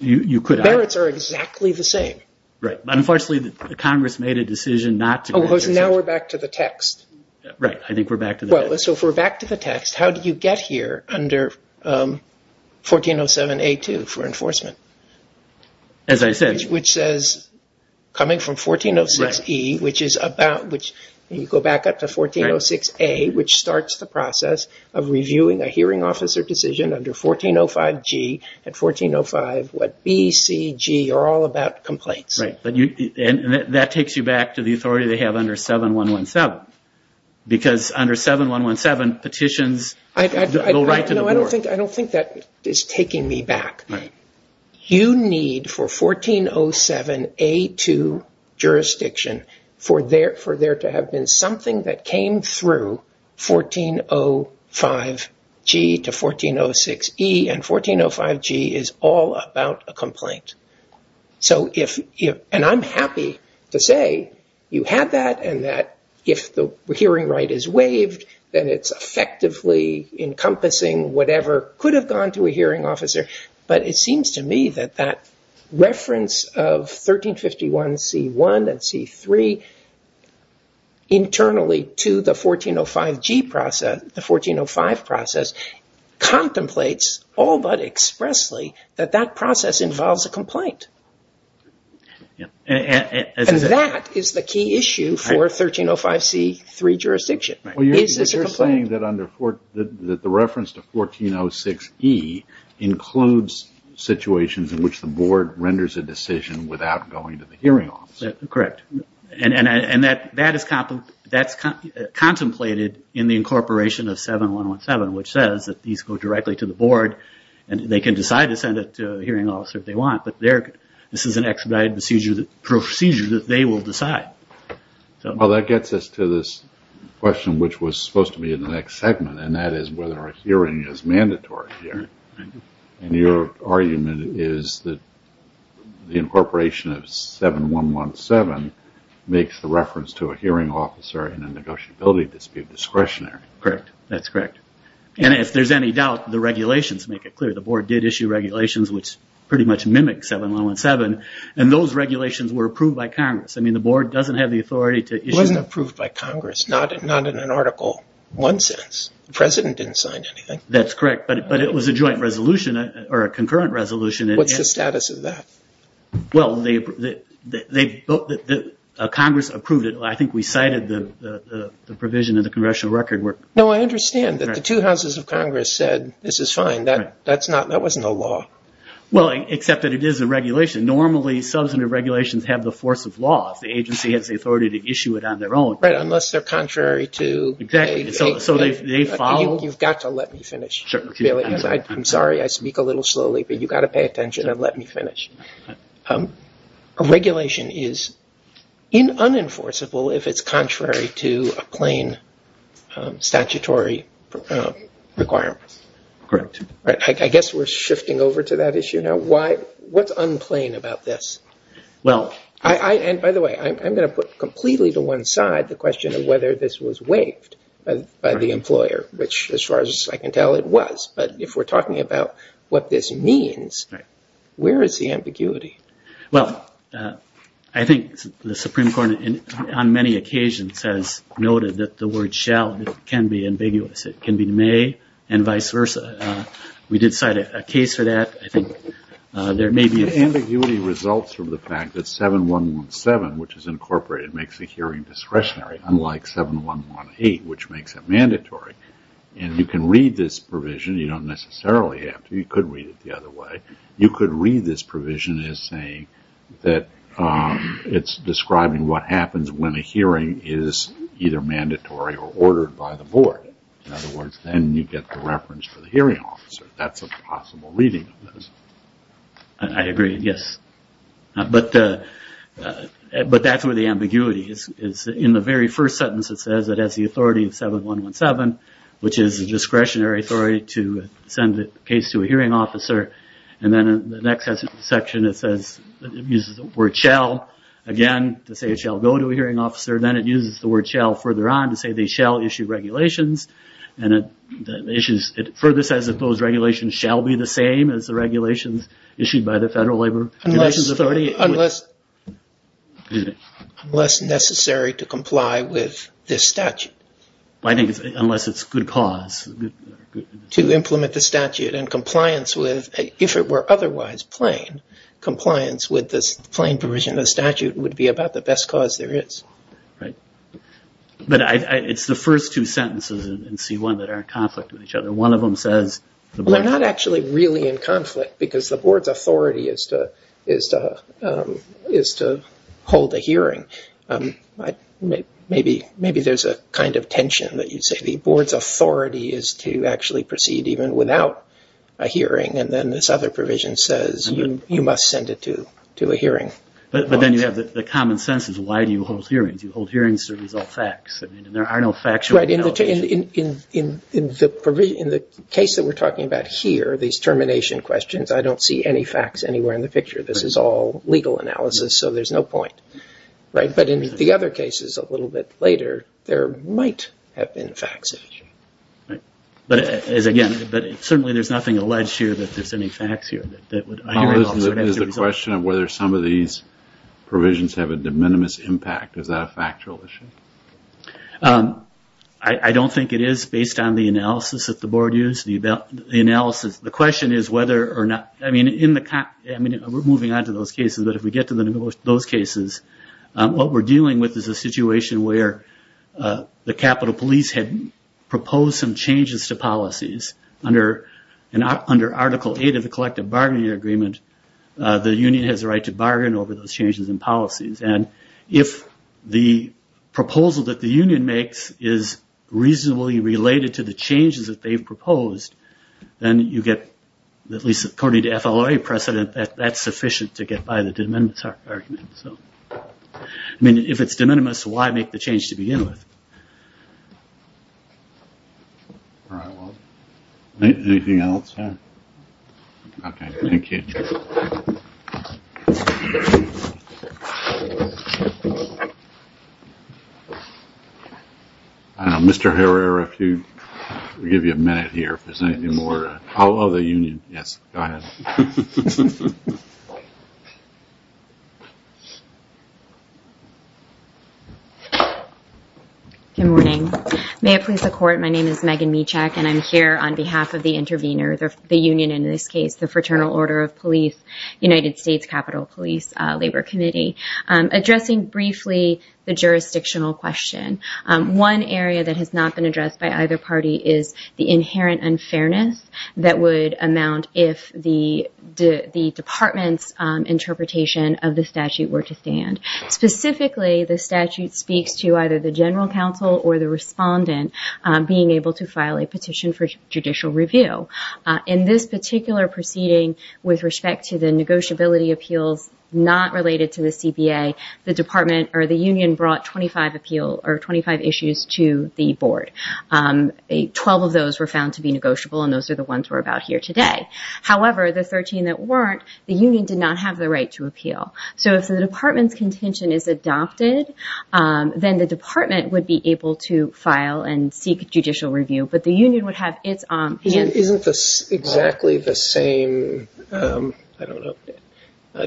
you could. The merits are exactly the same. Right. Unfortunately, the Congress made a decision not to. Oh, so now we're back to the text. Right. I think we're back to the text. So, if we're back to the text, how do you get here under 1407A2 for enforcement? As I said. Which says, coming from 1406E, which is about, which you go back up to 1406A, which starts the process of reviewing a hearing officer decision under 1405G and 1405, what B, C, G are all about complaints. Right. And that takes you back to the authority they have under 7117. Because under 7117, petitions. I don't think that is taking me back. Right. You need for 1407A2 jurisdiction for there to have been something that came through 1405G to 1406E. And 1405G is all about a complaint. And I'm happy to say you had that. And that if the hearing right is waived, then it's effectively encompassing whatever could have gone to a hearing officer. But it seems to me that that reference of 1351C1 and C3 internally to the 1405G process, the 1405 process, contemplates all but expressly that that process involves a complaint. And that is the key issue for 1305C3 jurisdiction. You're saying that the reference to 1406E includes situations in which the board renders a decision without going to the hearing officer. Correct. And that is contemplated in the incorporation of 7117, which says that you go directly to the board and they can decide to send it to a hearing officer if they want. But this is an expedited procedure that they will decide. Well, that gets us to this question, which was supposed to be in the next segment. And that is whether a hearing is mandatory here. And your argument is that the incorporation of 7117 makes the reference to a hearing officer in a negotiability dispute discretionary. Correct. That's correct. And if there's any doubt, the regulations make it clear. The board did issue regulations which pretty much mimic 7117. And those regulations were approved by Congress. I mean, the board doesn't have the authority to issue them. It wasn't approved by Congress. Not in an Article I sense. The president didn't sign anything. That's correct. But it was a joint resolution or a concurrent resolution. What's the status of that? Well, Congress approved it. I think we cited the provision in the congressional record. No, I understand that the two houses of Congress said, this is fine. That was no law. Well, except that it is a regulation. Normally, substantive regulations have the force of law. The agency has the authority to issue it on their own. Right, unless they're contrary to. Exactly. So they follow. You've got to let me finish, Billy. I'm sorry I speak a little slowly, but you've got to pay attention and let me finish. A regulation is unenforceable if it's contrary to a plain statutory requirement. Correct. I guess we're shifting over to that issue now. What's unclean about this? By the way, I'm going to put completely to one side the question of whether this was waived by the employer, which, as far as I can tell, it was. But if we're talking about what this means, where is the ambiguity? Well, I think the Supreme Court on many occasions has noted that the word shall can be ambiguous. It can be may and vice versa. We did cite a case for that. Ambiguity results from the fact that 7117, which is incorporated, makes the hearing discretionary, unlike 7118, which makes it mandatory. And you can read this provision. You don't necessarily have to. You could read it the other way. You could read this provision as saying that it's describing what happens when a hearing is either mandatory or ordered by the board. In other words, then you get the reference for the hearing officer. That's a possible reading. I agree, yes. But that's where the ambiguity is. In the very first sentence, it says it has the authority in 7117, which is the discretionary authority to send a case to a hearing officer. And then in the next section, it uses the word shall again to say it shall go to a hearing officer. And then it uses the word shall further on to say they shall issue regulations. And it further says that those regulations shall be the same as the regulations issued by the Federal Labor Relations Authority. Unless necessary to comply with this statute. Unless it's good cause. To implement the statute in compliance with, if it were otherwise plain, compliance with this plain provision of the statute would be about the best cause there is. But it's the first two sentences in C1 that are in conflict with each other. One of them says... They're not actually really in conflict because the board's authority is to hold a hearing. Maybe there's a kind of tension that you say the board's authority is to actually proceed even without a hearing. And then this other provision says you must send it to a hearing. But then you have the common sense is why do you hold hearings? You hold hearings to resolve facts. There are no facts. In the case that we're talking about here, these termination questions, I don't see any facts anywhere in the picture. This is all legal analysis, so there's no point. But in the other cases a little bit later, there might have been facts. But again, certainly there's nothing alleged here that there's any facts here. There's a question of whether some of these provisions have a de minimis impact. Is that a factual issue? I don't think it is based on the analysis that the board used, the analysis. The question is whether or not... I mean, we're moving on to those cases. But if we get to those cases, what we're dealing with is a situation where the Capitol Police had proposed some changes to policies. Under Article 8 of the Collective Bargaining Agreement, the union has the right to bargain over those changes in policies. And if the proposal that the union makes is reasonably related to the changes that they've proposed, then you get, at least according to FLRA precedent, that that's sufficient to get by the de minimis argument. I mean, if it's de minimis, why make the change to begin with? Anything else? Okay, thank you. Mr. Herrera, if you... We'll give you a minute here if there's anything more. Hello, the union. Yes, go ahead. Good morning. May I please support? My name is Megan Michak, and I'm here on behalf of the interveners, or the union in this case, the Fraternal Order of Police, United States Capitol Police Labor Committee, addressing briefly the jurisdictional question. One area that has not been addressed by either party is the inherent unfairness that would amount if the department's interpretation of the statute were to stand. Specifically, the statute speaks to either the general counsel or the respondent being able to file a petition for judicial review. In this particular proceeding, with respect to the negotiability appeals not related to the CBA, the department or the union brought 25 issues to the board. Twelve of those were found to be negotiable, and those are the ones we're about here today. However, the 13 that weren't, the union did not have the right to appeal. So if the department's contention is adopted, then the department would be able to file and seek judicial review. But the union would have its own. Isn't this exactly the same, I don't know,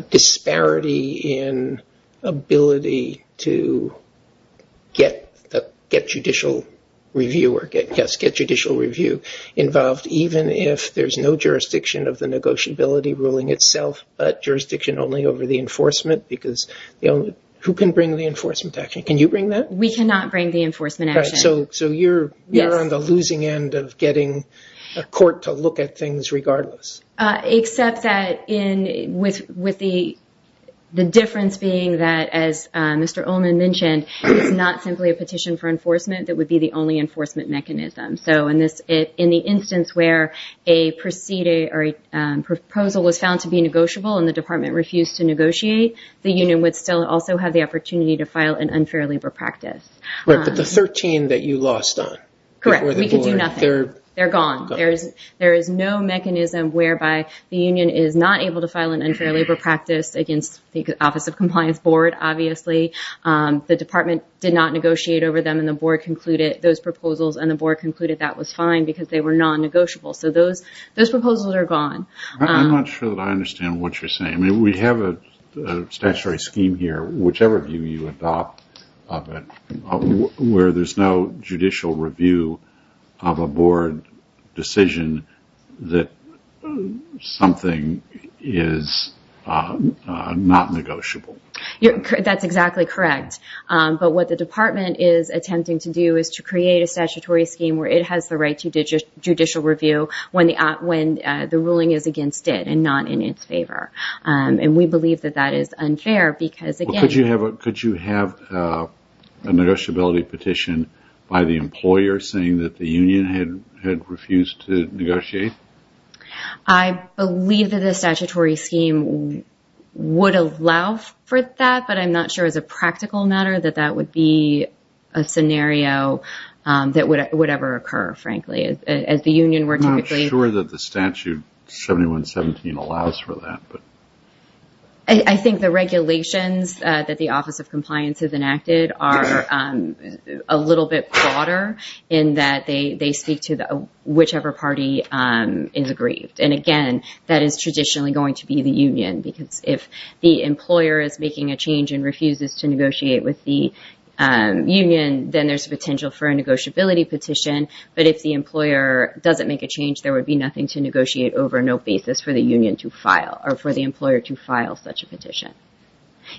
disparity in ability to get judicial review involved, even if there's no jurisdiction of the negotiability ruling itself, but jurisdiction only over the enforcement? Because who can bring the enforcement action? Can you bring that? We cannot bring the enforcement action. So you're on the losing end of getting a court to look at things regardless. Except that with the difference being that, as Mr. Ullman mentioned, it's not simply a petition for enforcement that would be the only enforcement mechanism. So in the instance where a proposal was found to be negotiable and the department refused to negotiate, the union would still also have the opportunity to file an unfair labor practice. But the 13 that you lost on? Correct. We can do nothing. They're gone. There is no mechanism whereby the union is not able to file an unfair labor practice against the Office of Compliance Board, obviously. The department did not negotiate over them, and the board concluded those proposals, and the board concluded that was fine because they were non-negotiable. So those proposals are gone. I'm not sure that I understand what you're saying. We have a statutory scheme here, whichever view you adopt, where there's no judicial review of a board decision that something is not negotiable. That's exactly correct. But what the department is attempting to do is to create a statutory scheme where it has the right to judicial review when the ruling is against it and not in its favor. And we believe that that is unfair because, again... Could you have a negotiability petition by the employer saying that the union had refused to negotiate? I believe that the statutory scheme would allow for that, but I'm not sure as a practical matter that that would be a scenario that would ever occur, frankly. As the union... I'm not sure that the Statute 7117 allows for that. I think the regulations that the Office of Compliance has enacted are a little bit broader in that they speak to whichever party is aggrieved. And, again, that is traditionally going to be the union because if the employer is making a change and refuses to negotiate with the union, then there's potential for a negotiability petition. But if the employer doesn't make a change, there would be nothing to negotiate over, no basis for the union to file or for the employer to file such a petition.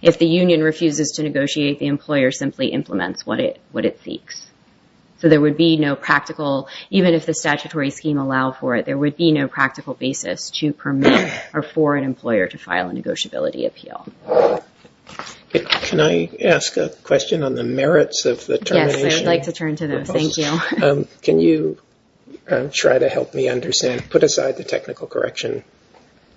If the union refuses to negotiate, the employer simply implements what it seeks. So there would be no practical... Even if the statutory scheme allowed for it, there would be no practical basis to permit or for an employer to file a negotiability appeal. Can I ask a question on the merits of the termination? Yes, I'd like to turn to those. Thank you. Can you try to help me understand... Put aside the technical correction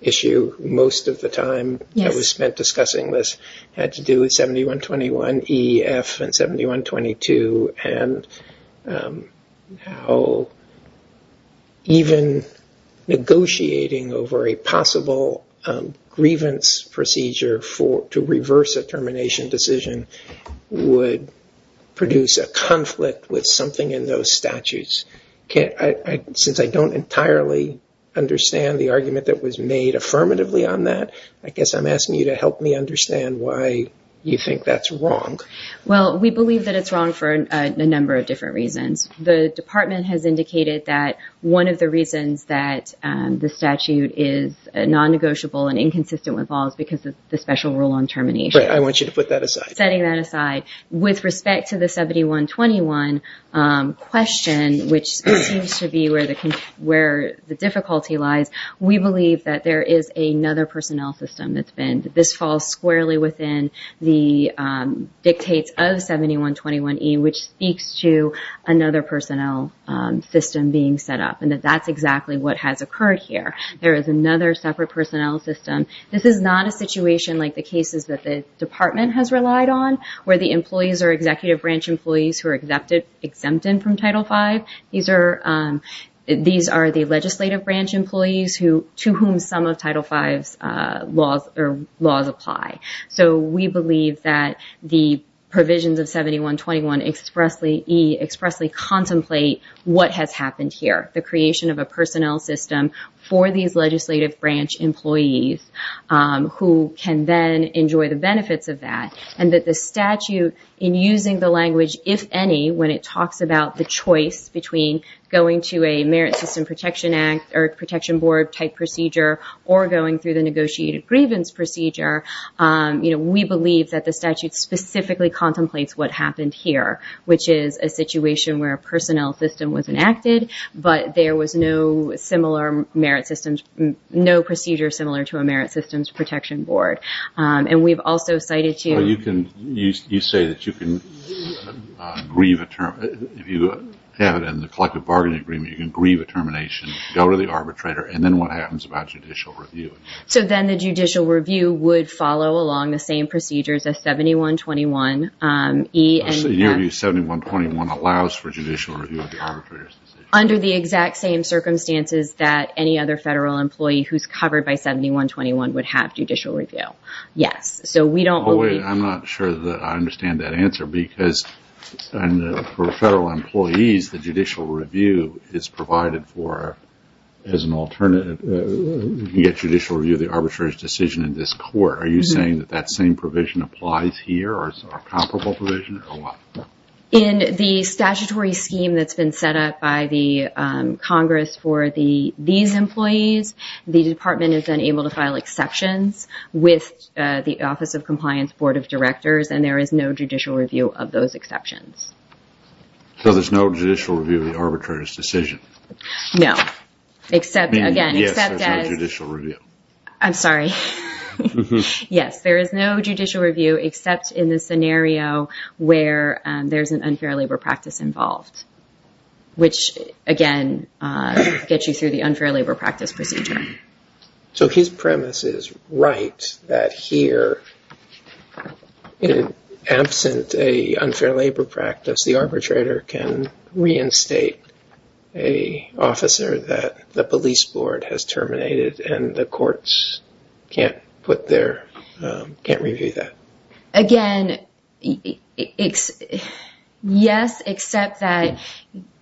issue. Most of the time that was spent discussing this had to do with 7121EF and 7122 and how even negotiating over a possible grievance procedure to reverse a termination decision would produce a conflict with something in those statutes. Since I don't entirely understand the argument that was made affirmatively on that, I guess I'm asking you to help me understand why you think that's wrong. Well, we believe that it's wrong for a number of different reasons. The department has indicated that one of the reasons that the statute is non-negotiable and inconsistent with all is because of the special rule on termination. I want you to put that aside. Setting that aside, with respect to the 7121 question, which seems to be where the difficulty lies, we believe that there is another personnel system that's been... within the dictates of 7121E which speaks to another personnel system being set up and that that's exactly what has occurred here. There is another separate personnel system. This is not a situation like the cases that the department has relied on where the employees are executive branch employees who are exempted from Title V. These are the legislative branch employees to whom some of Title V's laws apply. So we believe that the provisions of 7121E expressly contemplate what has happened here, the creation of a personnel system for these legislative branch employees who can then enjoy the benefits of that. And that the statute, in using the language, if any, when it talks about the choice between going to a merit system protection act or protection board type procedure or going through the negotiated grievance procedure, we believe that the statute specifically contemplates what happened here, which is a situation where a personnel system was enacted, but there was no similar merit systems... no procedure similar to a merit systems protection board. And we've also cited to... But you can... you say that you can grieve a term... if you have it in the collective bargaining agreement, you can grieve a termination, go to the arbitrator, and then what happens about judicial review? So then the judicial review would follow along the same procedures as 7121E and... So you're saying 7121 allows for judicial review of the arbitrators? Under the exact same circumstances that any other federal employee who's covered by 7121 would have judicial review, yes. So we don't... Oh, wait, I'm not sure that I understand that answer because for federal employees, the judicial review is provided for as an alternative. You can get judicial review of the arbitrator's decision in this court. Are you saying that that same provision applies here or a comparable provision? In the statutory scheme that's been set up by the Congress for these employees, the department is then able to file exceptions with the Office of Compliance Board of Directors, and there is no judicial review of those exceptions. So there's no judicial review of the arbitrator's decision? No, except, again, except that... Yes, there's no judicial review. I'm sorry. Yes, there is no judicial review except in the scenario where there's an unfair labor practice involved, which, again, gets you through the unfair labor practice procedure. So his premise is right that here, in absence of an unfair labor practice, the arbitrator can reinstate an officer that the police board has terminated, and the courts can't put their... can't review that. Again, yes, except that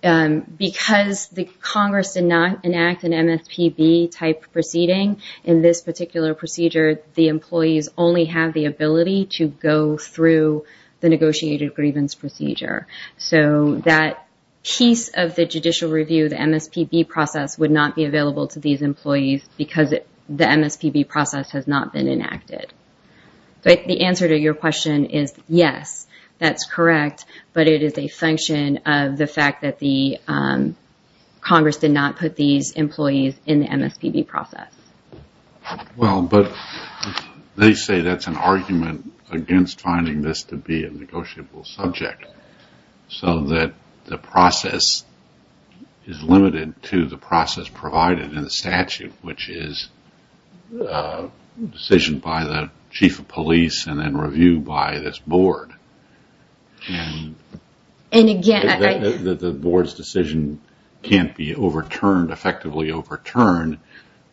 because the Congress did not enact an MSPB-type proceeding in this particular procedure, the employees only have the ability to go through the negotiated grievance procedure. So that piece of the judicial review of the MSPB process would not be available to these employees because the MSPB process has not been enacted. But the answer to your question is yes, that's correct, but it is a function of the fact that the Congress did not put these employees in the MSPB process. Well, but they say that's an argument against finding this to be a negotiable subject so that the process is limited to the process provided in the statute, which is a decision by the chief of police and then reviewed by this board. And again... The board's decision can't be overturned, effectively overturned,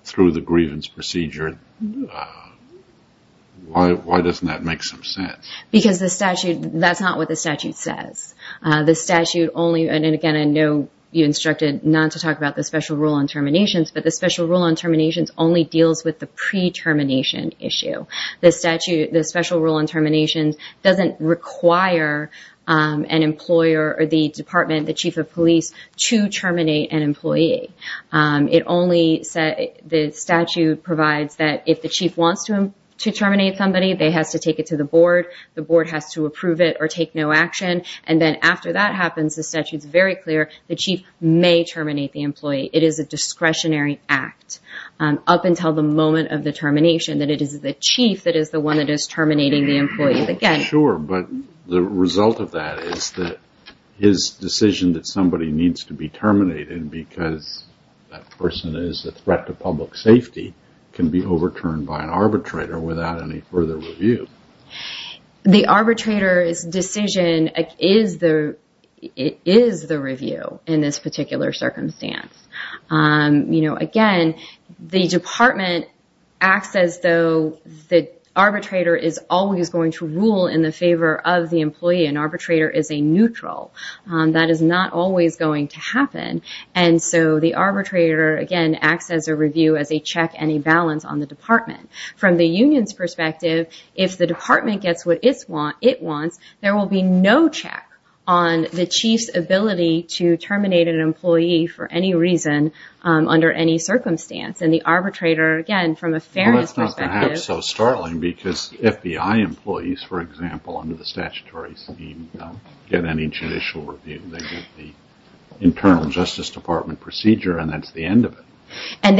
through the grievance procedure. Why doesn't that make some sense? Because the statute... that's not what the statute says. The statute only... and again, I know you instructed not to talk about the special rule on terminations, but the special rule on terminations only deals with the pre-termination issue. The statute... the special rule on terminations doesn't require an employer or the department, the chief of police, to terminate an employee. It only... the statute provides that if the chief wants to terminate somebody, they have to take it to the board, the board has to approve it or take no action, and then after that happens, the statute's very clear, the chief may terminate the employee. It is a discretionary act. Up until the moment of the termination that it is the chief that is the one that is terminating the employee. Again... Sure, but the result of that is that his decision that somebody needs to be terminated because that person is a threat to public safety can be overturned by an arbitrator without any further review. The arbitrator's decision is the review in this particular circumstance. You know, again, the department acts as though the arbitrator is always going to rule in the favor of the employee. An arbitrator is a neutral. That is not always going to happen, and so the arbitrator, again, acts as a review as they check any balance on the department. From the union's perspective, if the department gets what it wants, there will be no check on the chief's ability to terminate an employee for any reason under any circumstance. And the arbitrator, again, from a fairness perspective... That's not perhaps so startling because FBI employees, for example, under the statutory scheme, get any judicial review. They get the internal Justice Department procedure, and that's the end of it. And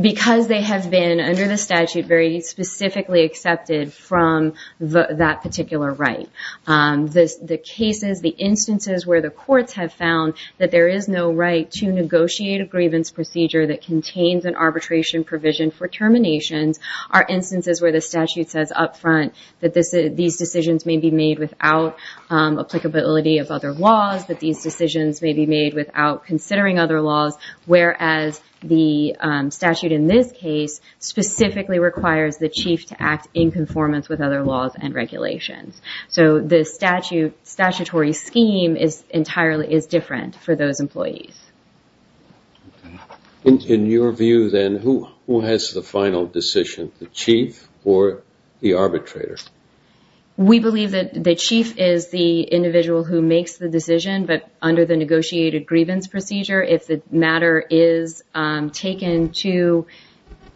because they have been, under the statute, very specifically accepted from that particular right, the cases, the instances where the courts have found that there is no right to negotiate a grievance procedure that contains an arbitration provision for termination are instances where the statute says up front that these decisions may be made without applicability of other laws, that these decisions may be made without considering other laws, whereas the statute in this case specifically requires the chief to act in conformance with other laws and regulations. So the statutory scheme is entirely different for those employees. In your view, then, who has the final decision, the chief or the arbitrator? We believe that the chief is the individual who makes the decision, but under the negotiated grievance procedure, if the matter is taken to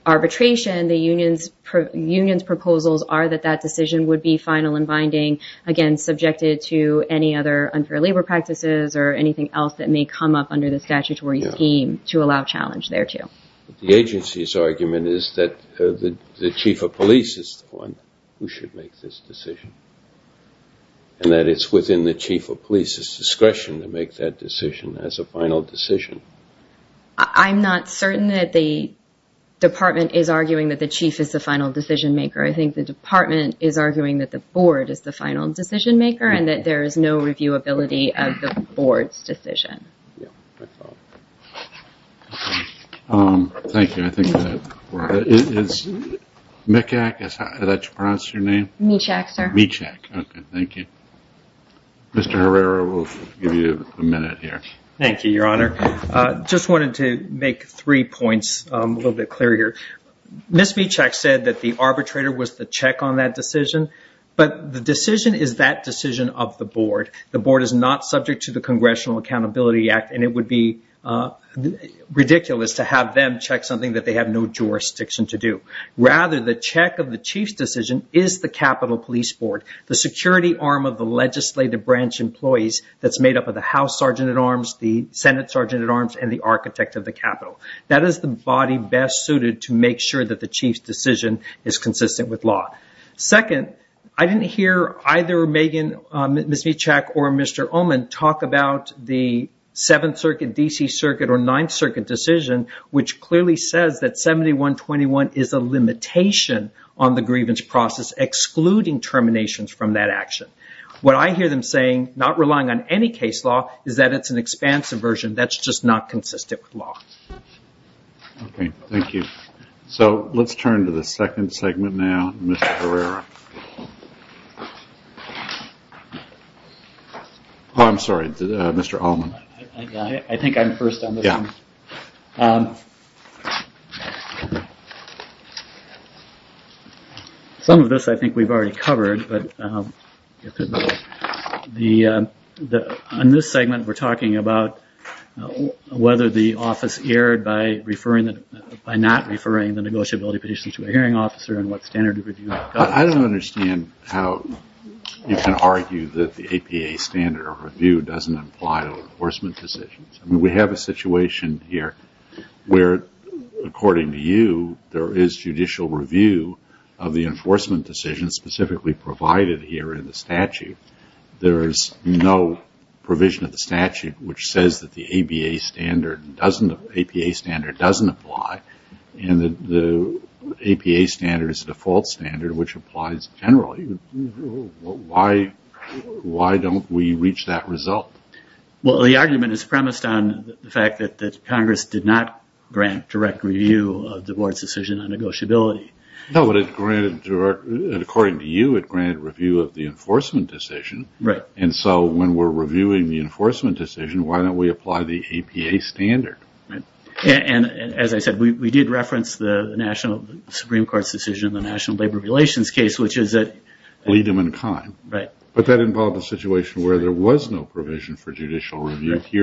arbitration, the union's proposals are that that decision would be final and binding, again, subjected to any other unfair labor practices or anything else that may come up under the statutory scheme to allow challenge thereto. The agency's argument is that the chief of police is the one who should make this decision and that it's within the chief of police's discretion to make that decision as a final decision. I'm not certain that the department is arguing that the chief is the final decision maker. I think the department is arguing that the board is the final decision maker and that there is no reviewability of the board's decision. Thank you. Is Michak, is that how you pronounce your name? Michak, sir. Michak. Okay, thank you. Mr. Herrera, we'll give you a minute here. Thank you, Your Honor. I just wanted to make three points a little bit clearer here. Ms. Michak said that the arbitrator was the check on that decision, but the decision is that decision of the board. The board is not subject to the Congressional Accountability Act, and it would be ridiculous to have them check something that they have no jurisdiction to do. Rather, the check of the chief's decision is the Capitol Police Board, the security arm of the legislative branch employees that's made up of the House Sergeant-at-Arms, the Senate Sergeant-at-Arms, and the architect of the Capitol. That is the body best suited to make sure that the chief's decision is consistent with law. Second, I didn't hear either Megan Michak or Mr. Ullman talk about the Seventh Circuit, D.C. Circuit, or Ninth Circuit decision, which clearly says that 7121 is a limitation on the grievance process, excluding terminations from that action. What I hear them saying, not relying on any case law, is that it's an expansive version that's just not consistent with law. Okay, thank you. So let's turn to the second segment now, Mr. Herrera. Oh, I'm sorry, Mr. Ullman. I think I'm first on this one. Some of this I think we've already covered. On this segment, we're talking about whether the office erred by not referring the negotiability petition to a hearing officer and what standard of review. I don't understand how you can argue that the APA standard of review doesn't apply to enforcement decisions. We have a situation here where, according to you, there is judicial review of the enforcement decisions specifically provided here in the statute. There's no provision of the statute which says that the APA standard doesn't apply and the APA standard is the default standard, which applies generally. Why don't we reach that result? Well, the argument is premised on the fact that Congress did not grant direct review of the board's decision on negotiability. No, but according to you, it granted review of the enforcement decision. And so when we're reviewing the enforcement decision, why don't we apply the APA standard? And as I said, we did reference the National Supreme Court's decision in the National Labor Relations case, which is that… …here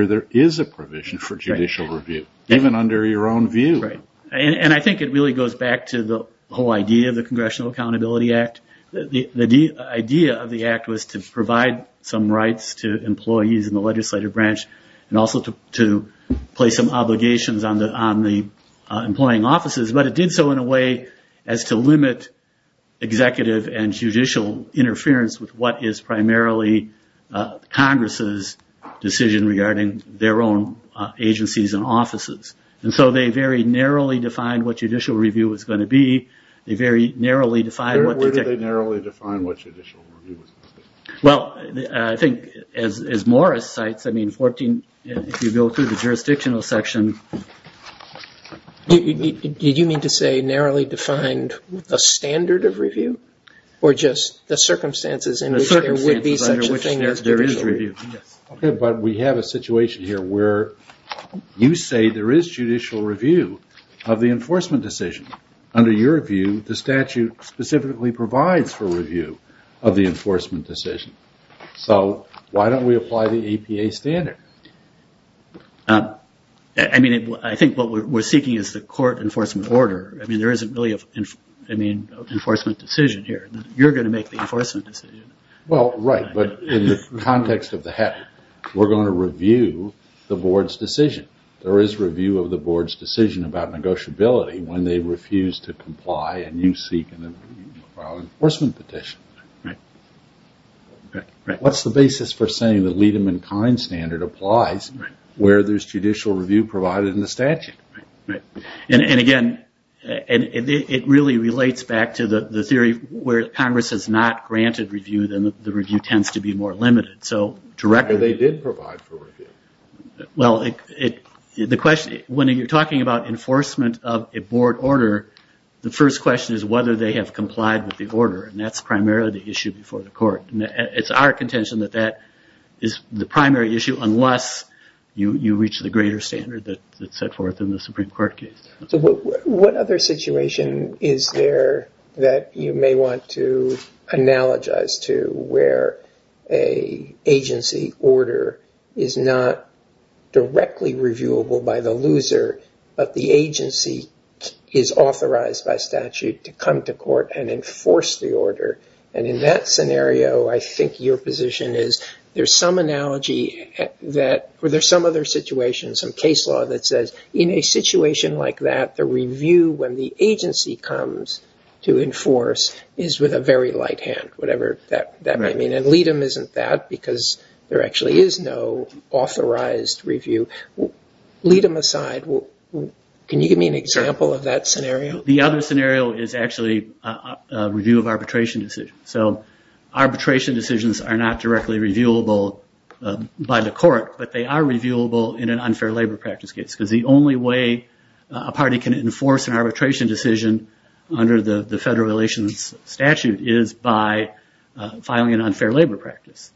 there is a provision for judicial review, even under your own view. Right, and I think it really goes back to the whole idea of the Congressional Accountability Act. The idea of the act was to provide some rights to employees in the legislative branch and also to place some obligations on the employing offices, but it did so in a way as to limit executive and judicial interference with what is primarily Congress's decision regarding their own agencies and offices. And so they very narrowly defined what judicial review was going to be. They very narrowly defined what… Where did they narrowly define what judicial review was going to be? Well, I think as Morris cites, I mean, if you go through the jurisdictional section… You mean to say narrowly defined a standard of review? Or just the circumstances in which there would be such a thing as judicial review? Okay, but we have a situation here where you say there is judicial review of the enforcement decision. Under your view, the statute specifically provides for review of the enforcement decision. So why don't we apply the APA standard? I mean, I think what we're seeking is the court enforcement order. I mean, there isn't really an enforcement decision here. You're going to make the enforcement decision. Well, right, but in the context of the HEPA, we're going to review the board's decision. There is review of the board's decision about negotiability when they refuse to comply and you seek an enforcement petition. Right. What's the basis for saying the Liedemann-Kind standard applies where there's judicial review provided in the statute? Right, and again, it really relates back to the theory where if Congress has not granted review, then the review tends to be more limited. So directly… But they did provide for review. Well, the question… When you're talking about enforcement of a board order, the first question is whether they have complied with the order and that's primarily the issue before the court. It's our contention that that is the primary issue unless you reach the greater standard that's set forth in the Supreme Court case. So what other situation is there that you may want to analogize to where an agency order is not directly reviewable by the loser but the agency is authorized by statute to come to court and enforce the order? In that scenario, I think your position is there's some analogy or there's some other situation, some case law that says in a situation like that, the review when the agency comes to enforce is with a very light hand, whatever that may mean. And Liedemann isn't that because there actually is no authorized review. Liedemann aside, can you give me an example of that scenario? The other scenario is actually a review of arbitration decisions. So arbitration decisions are not directly reviewable by the court but they are reviewable in an unfair labor practice case because the only way a party can enforce an arbitration decision under the federal relations statute is by filing an unfair labor practice.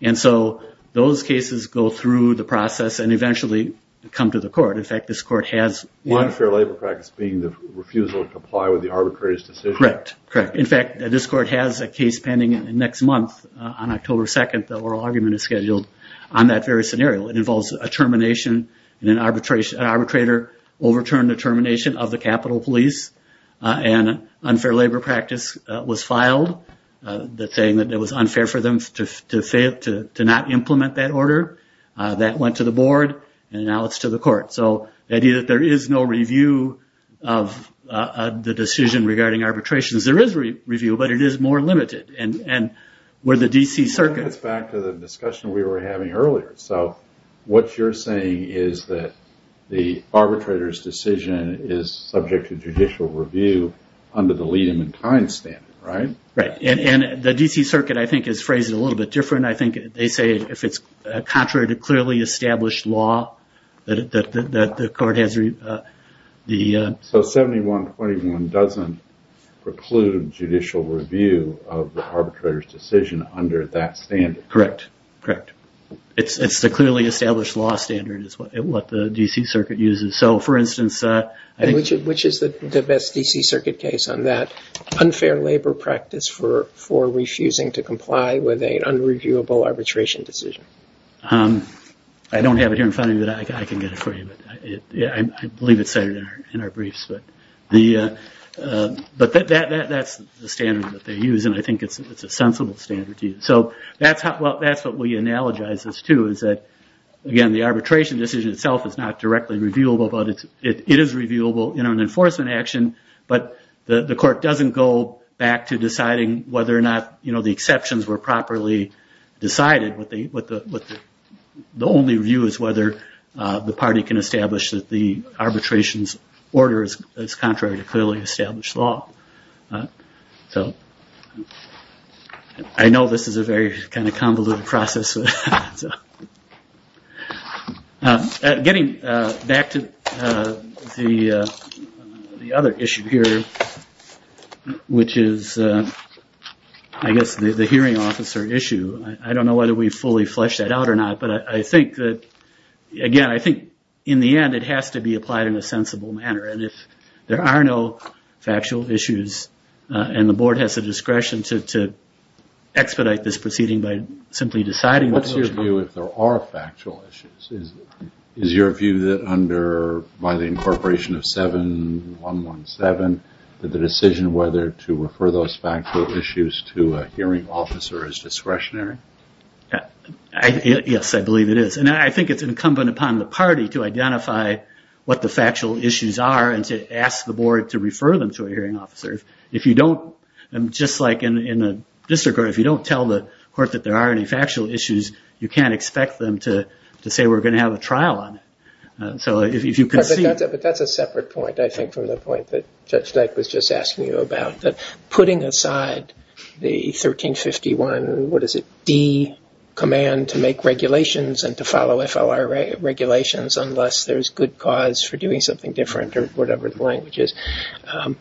And so those cases go through the process and eventually come to the court. In fact, this court has... Unfair labor practice being the refusal to comply with the arbitrator's decision. Correct, correct. In fact, this court has a case pending next month on October 2nd that oral argument is scheduled on that very scenario. It involves a termination and an arbitrator will return the termination of the capital police and unfair labor practice was filed saying that it was unfair for them to say it, to not implement that order. That went to the board and now it's to the court. So the idea that there is no review of the decision regarding arbitrations, there is review but it is more limited and where the DC circuit... It goes back to the discussion we were having earlier. So what you're saying is that the arbitrator's decision is subject to judicial review under the Liedemann time standard, right? Right, and the DC circuit, I think, is phrased a little bit different. I think they say if it's contrary to clearly established law that the court has... So 71.21 doesn't preclude judicial review of the arbitrator's decision under that standard. Correct, correct. It's the clearly established law standard is what the DC circuit uses. So for instance... Which is the best DC circuit case on that? Unfair labor practice for refusing to comply with an unreviewable arbitration decision. I don't have it here in front of me but I can get it for you. I believe it's in our briefs but that's the standard that they use and I think it's a sensible standard. So that's what we analogize this to is that, again, the arbitration decision itself is not directly reviewable but it is reviewable in an enforcement action but the court doesn't go back to deciding whether or not the exceptions were properly decided. The only review is whether the party can establish that the arbitration's order is contrary to clearly established law. I know this is a very convoluted process. Getting back to the other issue here which is, I guess, the hearing officer issue. I don't know whether we fully fleshed that out or not but I think that, again, I think in the end it has to be applied in a sensible manner and if there are no factual issues and the board has the discretion to expedite this proceeding What's your view if there are factual issues? Is your view that by the incorporation of 7.117 that the decision whether to refer those factual issues to a hearing officer is discretionary? Yes, I believe it is. I think it's incumbent upon the party to identify what the factual issues are and to ask the board to refer them to a hearing officer. If you don't, just like in the district court, if you don't tell the court that there are any factual issues you can't expect them to say we're going to have a trial on it. That's a separate point, I think, from the point that Chuck was just asking you about. Putting aside the 1351, what is it, D, command to make regulations and to follow FLIR regulations unless there's good cause for doing something different or whatever the language is. I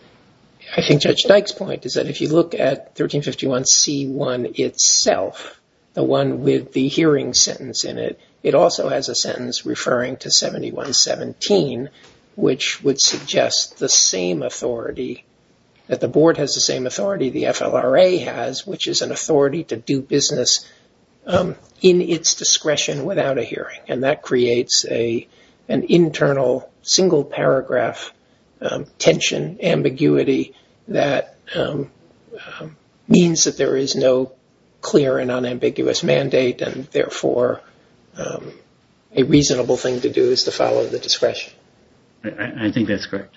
think Judge Dyke's point is that if you look at 1351 C.1 itself, the one with the hearing sentence in it, it also has a sentence referring to 7.117 which would suggest the same authority, that the board has the same authority, the FLRA has, which is an authority to do business in its discretion without a hearing. That creates an internal single paragraph tension, ambiguity, that means that there is no clear and unambiguous mandate and therefore a reasonable thing to do is to follow the discretion. I think that's correct.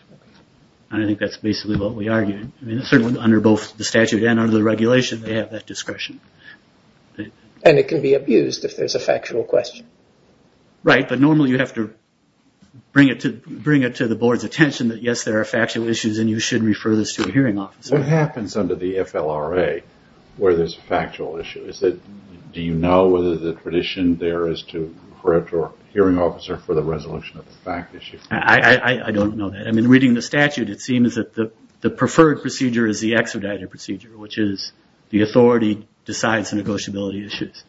I think that's basically what we argued. Certainly under both the statute and under the regulation they have that discretion. And it can be abused if there's a factual question. Right, but normally you have to bring it to the board's attention that yes, there are factual issues and you should refer this to a hearing officer. What happens under the FLRA where there's a factual issue? Do you know whether the tradition there is to refer it to a hearing officer for the resolution of a fact issue? I don't know that. I mean, reading the statute it seems that the preferred procedure is the expedited procedure which is the authority decides the negotiability issues.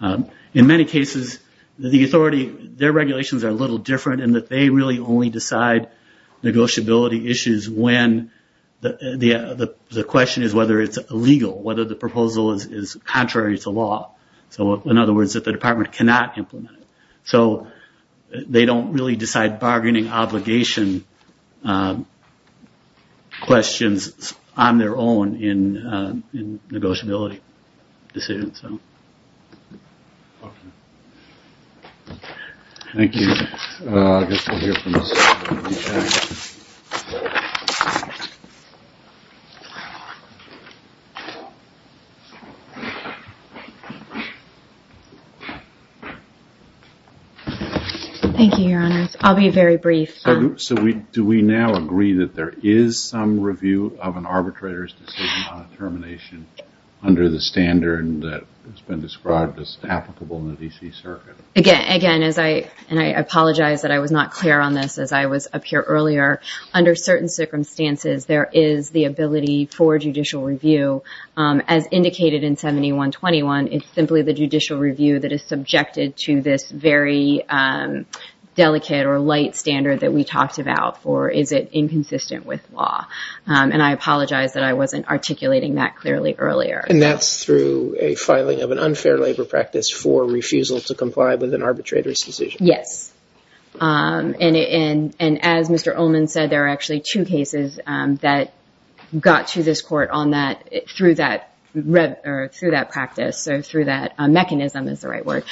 In many cases, the authority, their regulations are a little different in that they really only decide negotiability issues when the question is whether it's illegal, whether the proposal is contrary to law. So, in other words, if the department cannot implement it. They don't really decide bargaining obligation questions on their own in negotiability decisions. Thank you. Thank you, Your Honor. I'll be very brief. So, do we now agree that there is some review of an arbitrator's decision on termination under the standard that has been described as applicable in the D.C. Circuit? Again, and I apologize that I was not clear on this as I was up here earlier, under certain circumstances there is the ability for judicial review. As indicated in 7121, it's simply the judicial review that is subjected to this very delicate or light standard that we talked about for is it inconsistent with law. And I apologize that I wasn't articulating that clearly earlier. And that's through a filing of an unfair labor practice for refusal to comply with an arbitrator's decision. Yes. And as Mr. Ullman said, there are actually two cases that got to this court on that through that practice, so through that mechanism is the right word,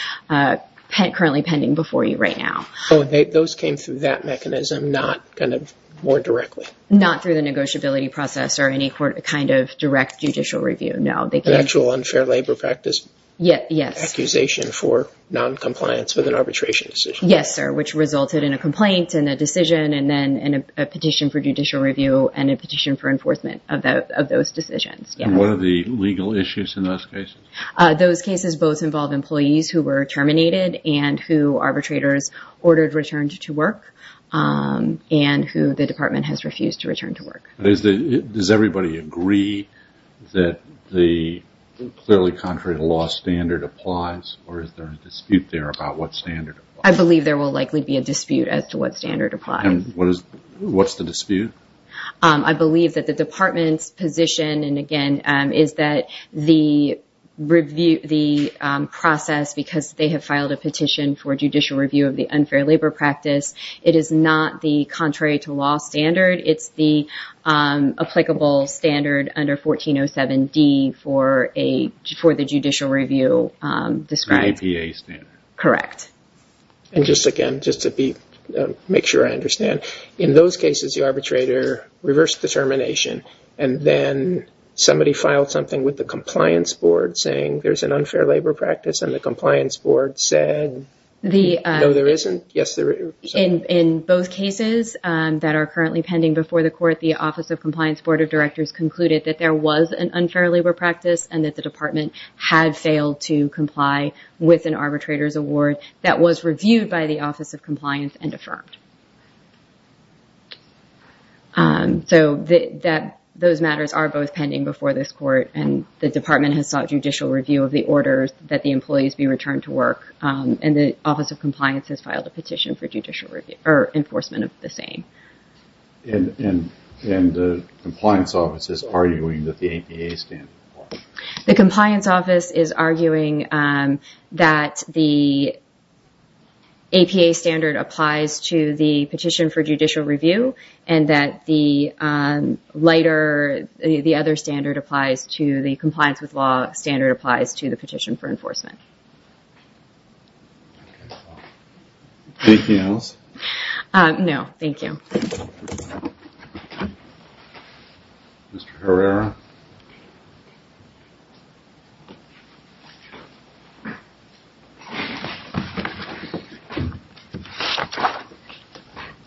currently pending before you right now. Oh, those came through that mechanism, not kind of more directly? Not through the negotiability process or any kind of direct judicial review, no. The actual unfair labor practice? Yes. Accusation for noncompliance with an arbitration decision. Yes, sir, which resulted in a complaint and a decision and then a petition for judicial review and a petition for enforcement of those decisions. And what are the legal issues in those cases? Those cases both involve employees who were terminated and who arbitrators ordered returned to work and who the department has refused to return to work. Does everybody agree that the clearly contrary to law standard applies or is there a dispute there about what standard applies? I believe there will likely be a dispute as to what standard applies. And what's the dispute? I believe that the department's position, and again, is that the process, because they have filed a petition for judicial review of the unfair labor practice, it is not the contrary to law standard. It's the applicable standard under 1407D for the judicial review. It's an APA standard. Correct. And just again, just to make sure I understand, in those cases, the arbitrator reversed the termination and then somebody filed something with the compliance board saying there's an unfair labor practice and the compliance board said no, there isn't? Yes, there is. In both cases that are currently pending before the court, the Office of Compliance Board of Directors concluded that there was an unfair labor practice and that the department had failed to comply with an arbitrator's award that was reviewed by the Office of Compliance and affirmed. So those matters are both pending before this court and the department has sought judicial review of the orders that the employees be returned to work and the Office of Compliance has filed a petition for enforcement of the same. And the compliance office is arguing that the APA standard applies? The compliance office is arguing that the APA standard applies to the petition for judicial review and that the other standard applies to the compliance with law standard applies to the petition for enforcement. Anything else? No, thank you. Mr. Herrera?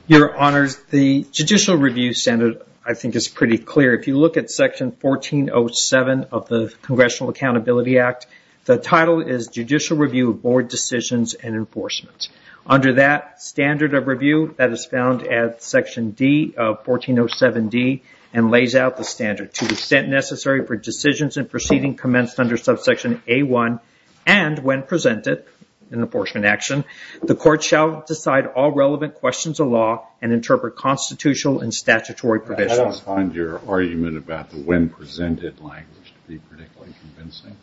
Your Honor, the judicial review standard I think is pretty clear. If you look at Section 1407 of the Congressional Accountability Act, the title is Judicial Review of Board Decisions and Enforcement. Under that standard of review that is found at Section D of 1407D and lays out the standard to the extent necessary for decisions and proceedings commenced under subsection A1 and when presented in enforcement action, the court shall decide all relevant questions of law and interpret constitutional and statutory provisions. I don't find your argument about the when presented language to be particularly convincing.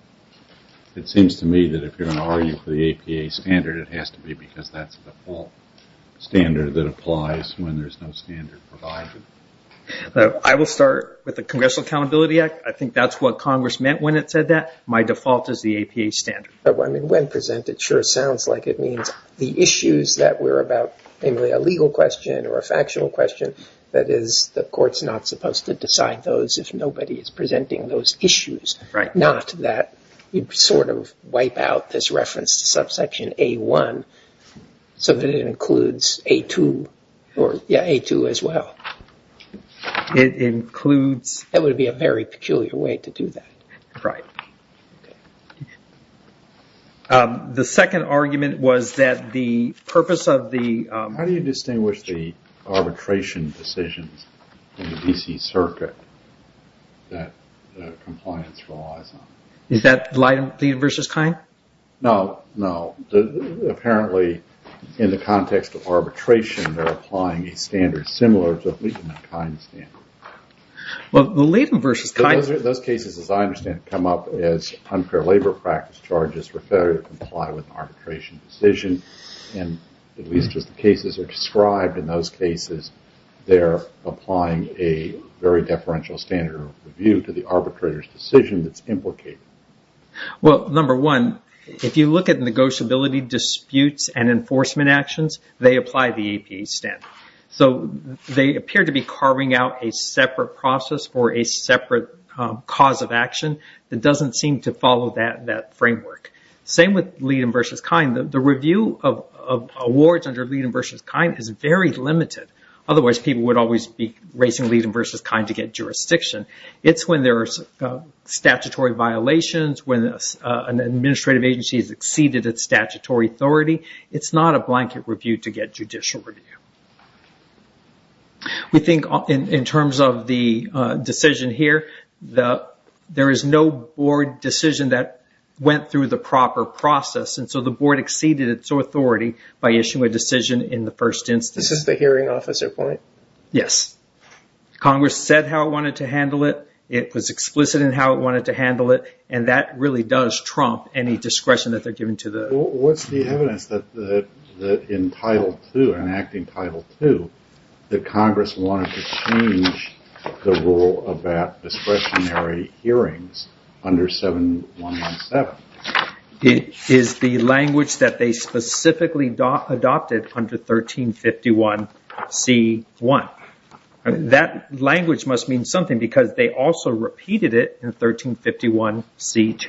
It seems to me that if you're going to argue for the APA standard, it has to be because that's the default standard that applies when there's no standard provided. I will start with the Congressional Accountability Act. I think that's what Congress meant when it said that. My default is the APA standard. When presented sure sounds like it means the issues that were about a legal question or a factual question, that is the court's not supposed to decide those if nobody is presenting those issues. Not that you sort of wipe out this reference to subsection A1 so that it includes A2 as well. It includes... That would be a very peculiar way to do that. Right. The second argument was that the purpose of the... ...circuit that the compliance law is on. Is that Leiden versus Kine? No. No. Apparently, in the context of arbitration, they're applying a standard similar to at least the Kine standard. Well, Leiden versus Kine... Those cases, as I understand, come up as unfair labor practice charges for failure to comply with an arbitration decision. At least as the cases are described in those cases, they're applying a very deferential standard of review to the arbitrator's decision that's implicated. Well, number one, if you look at negotiability disputes and enforcement actions, they apply the APA standard. They appear to be carving out a separate process for a separate cause of action that doesn't seem to follow that framework. Same with Leiden versus Kine. The review of awards under Leiden versus Kine is very limited. Otherwise, people would always be raising Leiden versus Kine to get jurisdiction. It's when there's statutory violations, when an administrative agency has exceeded its statutory authority. It's not a blanket review to get judicial review. We think in terms of the decision here, there is no board decision that went through the proper process. And so the board exceeded its authority by issuing a decision in the first instance. This is the hearing officer point? Yes. Congress said how it wanted to handle it. It was explicit in how it wanted to handle it. And that really does trump any discretion that they're giving to the... What's the evidence that in Title II, enacting Title II, that Congress wanted to change the rule about discretionary hearings under 7117? It is the language that they specifically adopted under 1351C1. That language must mean something because they also repeated it in 1351C2.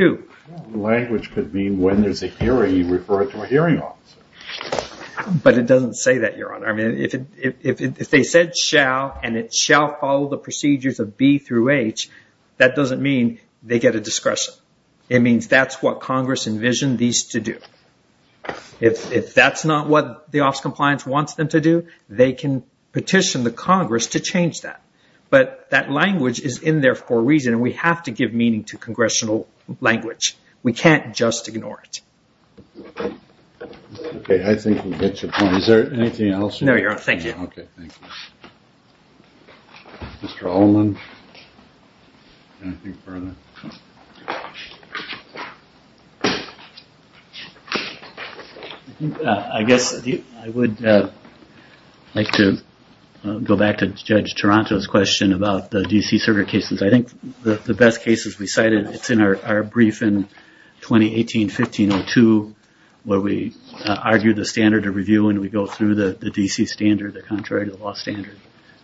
The language could mean when there's a hearing, you refer it to a hearing officer. But it doesn't say that, Your Honor. I mean, if they said shall and it shall follow the procedures of B through H, that doesn't mean they get a discretion. It means that's what Congress envisioned these to do. If that's not what the Office of Compliance wants them to do, they can petition the Congress to change that. But that language is in their core region, and we have to give meaning to congressional language. We can't just ignore it. Okay. I think we get your point. Is there anything else? No, Your Honor. Thank you. Okay. Thank you. Mr. Alleman, anything further? I guess I would like to go back to Judge Toronto's question about the DC server cases. I think the best cases we cited, it's in our brief in 2018-15-02 where we argue the standard of review and we go through the DC standard, the contrary to the law standard.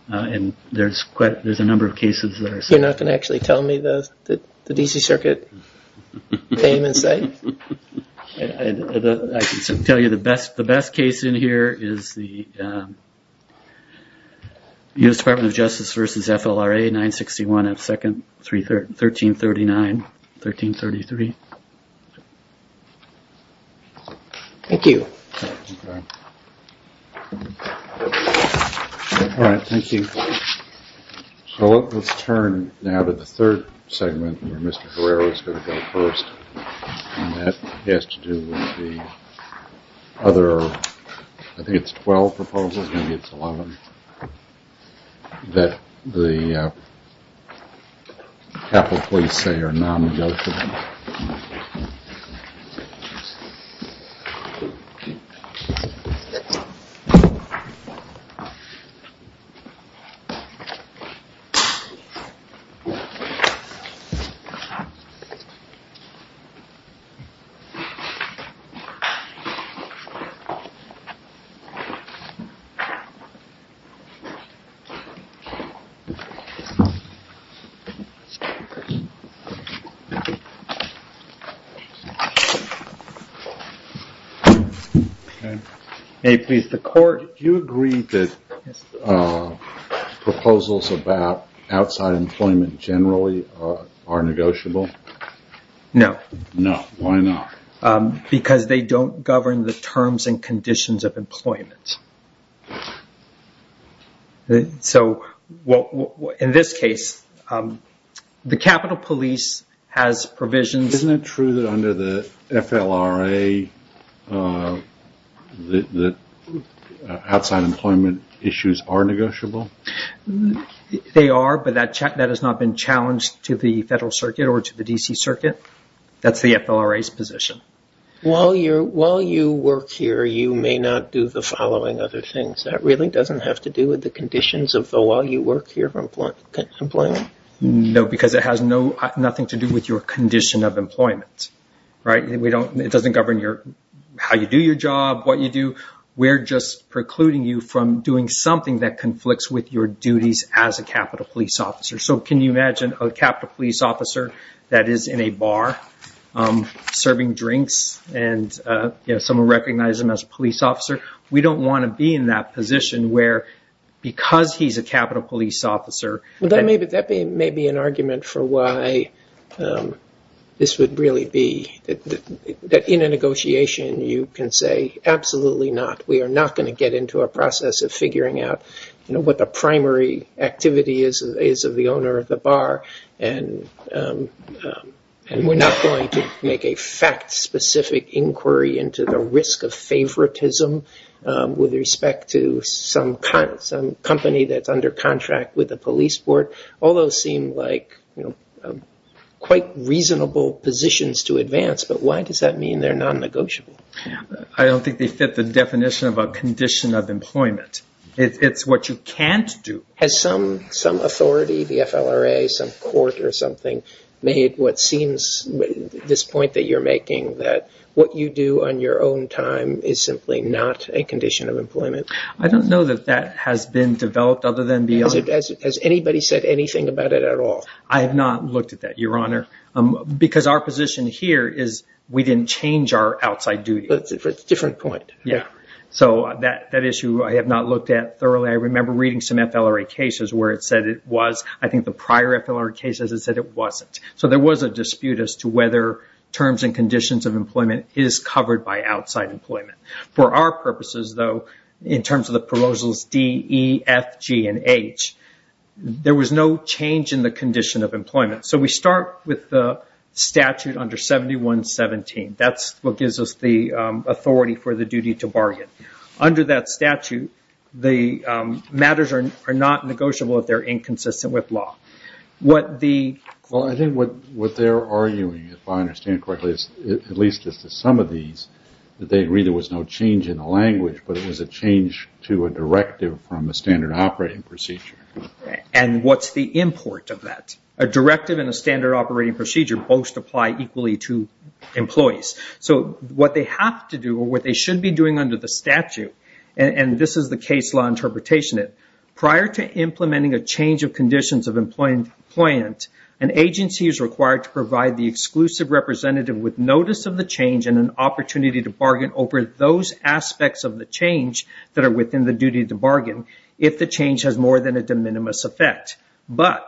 And there's a number of cases there. You're not going to actually tell me the DC circuit came and said? I can tell you the best case in here is the U.S. Department of Justice versus FLRA, 961 F 2nd, 1339-1333. Thank you. All right. Thank you. So let's turn now to the third segment where Mr. Guerrero is going to go first. And that has to do with the other, I think it's 12 proposals, maybe it's 11, that the Capitol Police say are non-negotiable. Okay. Hey, please, the court, do you agree that proposals about outside employment generally are negotiable? No. No. Why not? Because they don't govern the terms and conditions of employment. So in this case, the Capitol Police has provisions. Isn't it true that under the FLRA, the outside employment issues are negotiable? They are, but that has not been challenged to the federal circuit or to the DC circuit. That's the FLRA's position. While you work here, you may not do the following other things. That really doesn't have to do with the conditions of while you work here of employment? No, because it has nothing to do with your condition of employment. Right? It doesn't govern how you do your job, what you do. We're just precluding you from doing something that conflicts with your duties as a Capitol Police officer. So can you imagine a Capitol Police officer that is in a bar serving drinks and someone recognizing him as a police officer? We don't want to be in that position where because he's a Capitol Police officer. That may be an argument for why this would really be that in a negotiation you can say absolutely not. We are not going to get into a process of figuring out what the primary activity is of the owner of the bar. And we're not going to make a fact specific inquiry into the risk of favoritism with respect to some company that's under contract with the police board. All those seem like quite reasonable positions to advance, but why does that mean they're non-negotiable? I don't think they fit the definition of a condition of employment. It's what you can't do. Has some authority, the FLRA, some court or something made what seems this point that you're making that what you do on your own time is simply not a condition of employment? I don't know that that has been developed other than the owner. Has anybody said anything about it at all? I have not looked at that, Your Honor, because our position here is we didn't change our outside duty. That's a different point. So that issue I have not looked at thoroughly. I remember reading some FLRA cases where it said it was. I think the prior FLRA cases it said it wasn't. So there was a dispute as to whether terms and conditions of employment is covered by outside employment. For our purposes, though, in terms of the proposals D, E, F, G, and H, there was no change in the condition of employment. So we start with the statute under 7117. That's what gives us the authority for the duty to bargain. Under that statute, the matters are not negotiable if they're inconsistent with law. Well, I think what they're arguing, if I understand correctly, at least just as some of these, that they agree there was no change in the language, but it was a change to a directive from the standard operating procedure. And what's the import of that? A directive and a standard operating procedure both apply equally to employees. So what they have to do or what they should be doing under the statute, and this is the case law interpretation, prior to implementing a change of conditions of employment, an agency is required to provide the exclusive representative with notice of the change and an opportunity to bargain over those aspects of the change that are within the duty to bargain if the change has more than a de minimis effect. But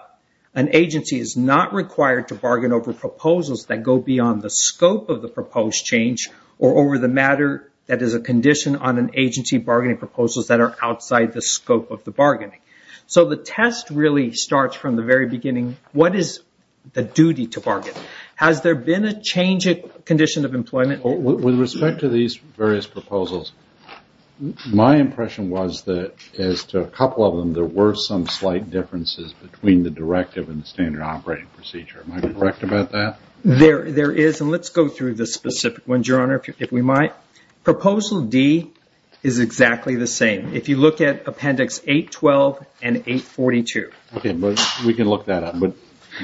an agency is not required to bargain over proposals that go beyond the scope of the proposed change or over the matter that is a condition on an agency bargaining proposals that are outside the scope of the bargaining. So the test really starts from the very beginning. What is the duty to bargain? Has there been a change in condition of employment? With respect to these various proposals, my impression was that as to a couple of them, there were some slight differences between the directive and standard operating procedure. Am I correct about that? There is, and let's go through the specific ones, Your Honor, if we might. Proposal D is exactly the same. If you look at Appendix 812 and 842. Okay, we can look that up, but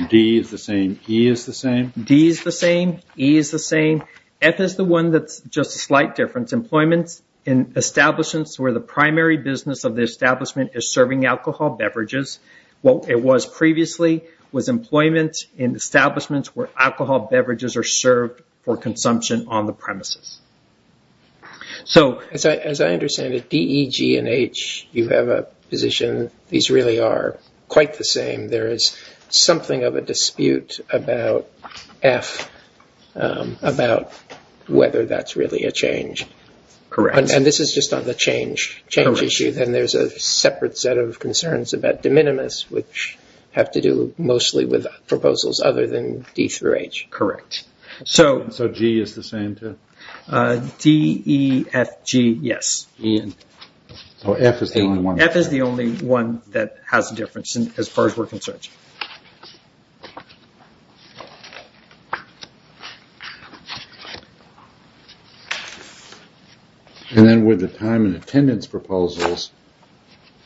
D is the same, E is the same? D is the same, E is the same. F is the one that's just a slight difference. Employment in establishments where the primary business of the establishment is serving alcohol beverages. What it was previously was employment in establishments where alcohol beverages are served for consumption on the premises. So as I understand it, D, E, G, and H, you have a position these really are quite the same. There is something of a dispute about F, about whether that's really a change. Correct. And this is just on the change issue, then there's a separate set of concerns about de minimis, which have to do mostly with proposals other than D through H. Correct. So G is the same too? D, E, F, G, yes. F is the only one. F is the only one that has a difference as far as we're concerned. And then with the time and attendance proposals,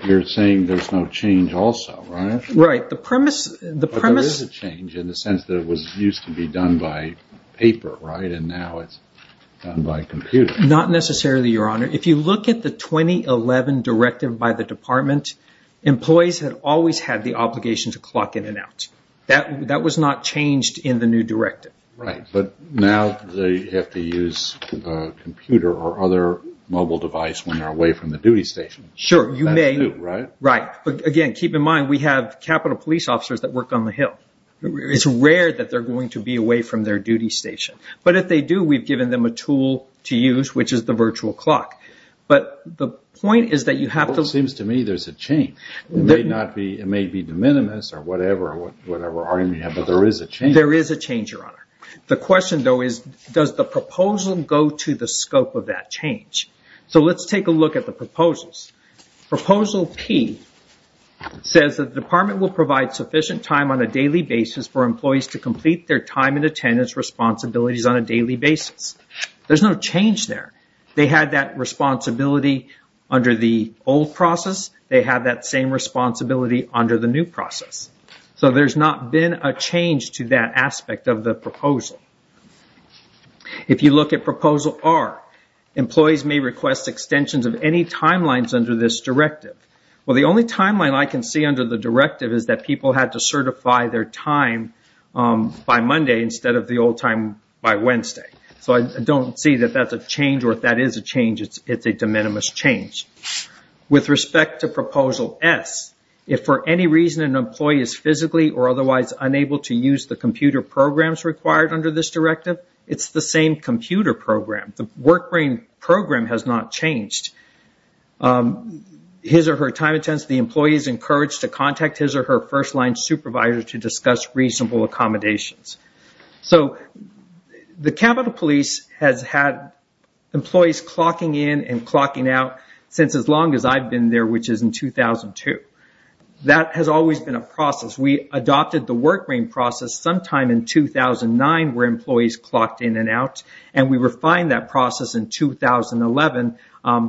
you're saying there's no change also, right? Right. The premise... But there is a change in the sense that it used to be done by paper, right, and now it's done by computer. Not necessarily, Your Honor. If you look at the 2011 directive by the department, employees have always had the obligation to clock in and out. That was not changed in the new directive. Right. But now they have to use a computer or other mobile device when they're away from the duty station. Sure, you may. That too, right? Right. Again, keep in mind, we have Capitol Police officers that work on the Hill. It's rare that they're going to be away from their duty station. But if they do, we've given them a tool to use, which is the virtual clock. But the point is that you have to... It seems to me there's a change. It may be de minimis or whatever, but there is a change. The question, though, is does the proposal go to the scope of that change? So let's take a look at the proposals. Proposal P says the department will provide sufficient time on a daily basis for employees to complete their time and attendance responsibilities on a daily basis. There's no change there. They had that responsibility under the old process. They have that same responsibility under the new process. So there's not been a change to that aspect of the proposal. If you look at Proposal R, employees may request extensions of any timelines under this directive. Well, the only timeline I can see under the directive is that people have to certify their time by Monday instead of the old time by Wednesday. So I don't see that that's a change, or if that is a change, it's a de minimis change. With respect to Proposal S, if for any reason an employee is physically or otherwise unable to use the computer programs required under this directive, it's the same computer program. The work brain program has not changed. His or her time and attendance, the employee is encouraged to contact his or her first-line supervisor to discuss reasonable accommodations. So the Capitol Police has had employees clocking in and clocking out since as long as I've been there, which is in 2002. That has always been a process. We adopted the work brain process sometime in 2009 where employees clocked in and out, and we refined that process in 2011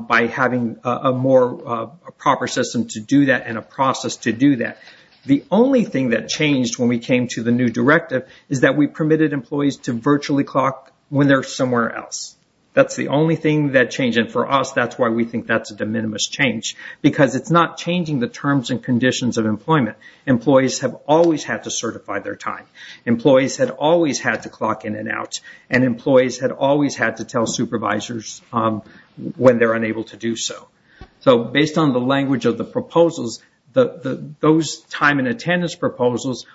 by having a more proper system to do that and a process to do that. The only thing that changed when we came to the new directive is that we permitted employees to virtually clock when they're somewhere else. That's the only thing that changed, and for us, that's why we think that's a de minimis change, because it's not changing the terms and conditions of employment. Employees have always had to certify their time. Employees have always had to clock in and out, and employees have always had to tell supervisors when they're unable to do so. So based on the language of the proposals, those time and attendance proposals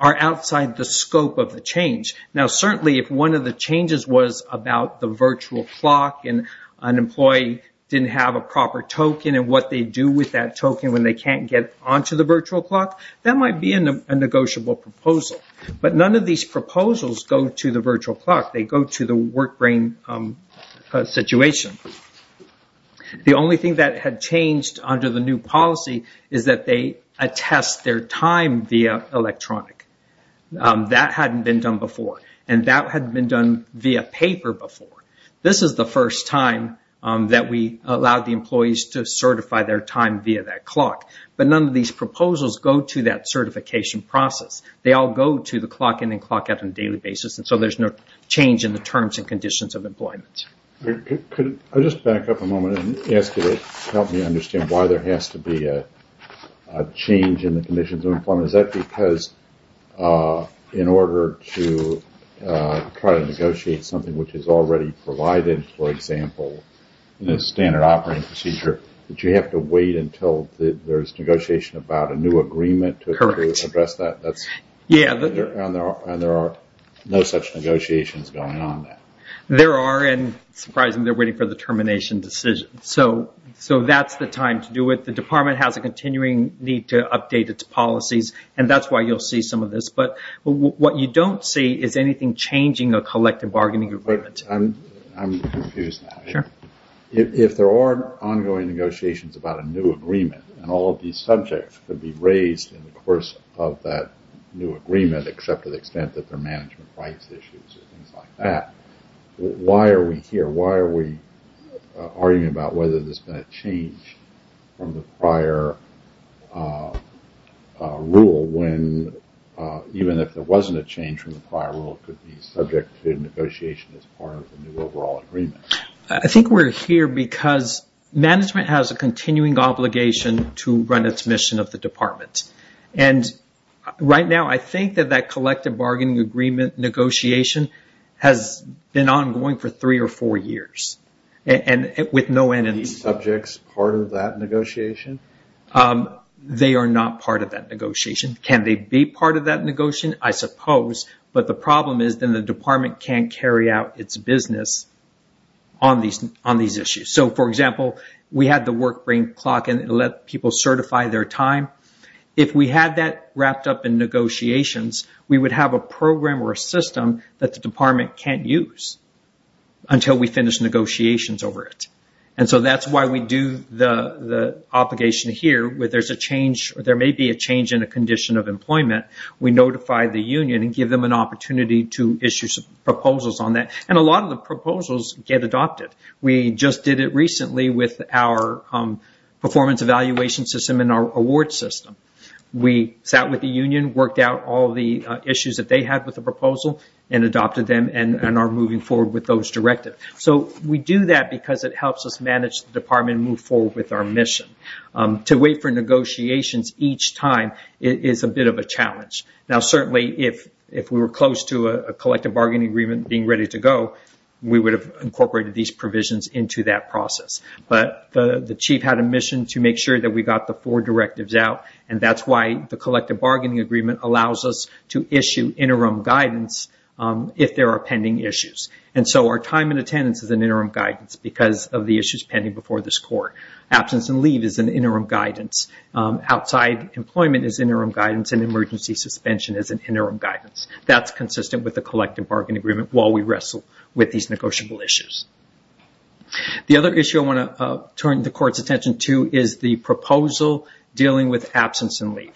are outside the scope of the change. Now, certainly if one of the changes was about the virtual clock and an employee didn't have a proper token and what they do with that token when they can't get onto the virtual clock, that might be a negotiable proposal. But none of these proposals go to the virtual clock. They go to the work brain situation. The only thing that had changed under the new policy is that they attest their time via electronic. That hadn't been done before, and that hadn't been done via paper before. This is the first time that we allowed the employees to certify their time via that clock. But none of these proposals go to that certification process. They all go to the clock in and clock out on a daily basis, and so there's no change in the terms and conditions of employment. I'll just back up a moment and ask you to help me understand why there has to be a change in the conditions of employment. Is that because in order to try to negotiate something which is already provided, for example, in a standard operating procedure, that you have to wait until there's negotiation about a new agreement to address that? Correct. And there are no such negotiations going on now? There are, and surprisingly, they're waiting for the termination decision. So that's the time to do it. The department has a continuing need to update its policies, and that's why you'll see some of this. But what you don't see is anything changing a collective bargaining agreement. I'm confused now. Sure. If there are ongoing negotiations about a new agreement, and all of these subjects would be raised in the course of that new agreement, except to the extent that they're management rights issues and things like that, why are we here? Why are we arguing about whether there's been a change from the prior rule, when even if there wasn't a change from the prior rule, it could be subject to negotiation as part of the new overall agreement? I think we're here because management has a continuing obligation to run its mission of the department. And right now, I think that that collective bargaining agreement negotiation has been ongoing for three or four years, and with no end in view. Are these subjects part of that negotiation? They are not part of that negotiation. Can they be part of that negotiation? I suppose. But the problem is then the department can't carry out its business on these issues. So, for example, we have the work frame clock, and it lets people certify their time. If we have that wrapped up in negotiations, we would have a program or a system that the department can't use until we finish negotiations over it. And so that's why we do the obligation here where there's a change or there may be a change in a condition of employment. We notify the union and give them an opportunity to issue proposals on that. And a lot of the proposals get adopted. We just did it recently with our performance evaluation system and our award system. We sat with the union, worked out all the issues that they had with the proposal, and adopted them and are moving forward with those directives. So, we do that because it helps us manage the department and move forward with our mission. To wait for negotiations each time is a bit of a challenge. Now, certainly, if we were close to a collective bargaining agreement being ready to go, we would have incorporated these provisions into that process. But the chief had a mission to make sure that we got the four directives out, and that's why the collective bargaining agreement allows us to issue interim guidance if there are pending issues. And so our time in attendance is an interim guidance because of the issues pending before this court. Absence and leave is an interim guidance. Outside employment is interim guidance, and emergency suspension is an interim guidance. That's consistent with the collective bargaining agreement while we wrestle with these negotiable issues. The other issue I want to turn the court's attention to is the proposal dealing with absence and leave.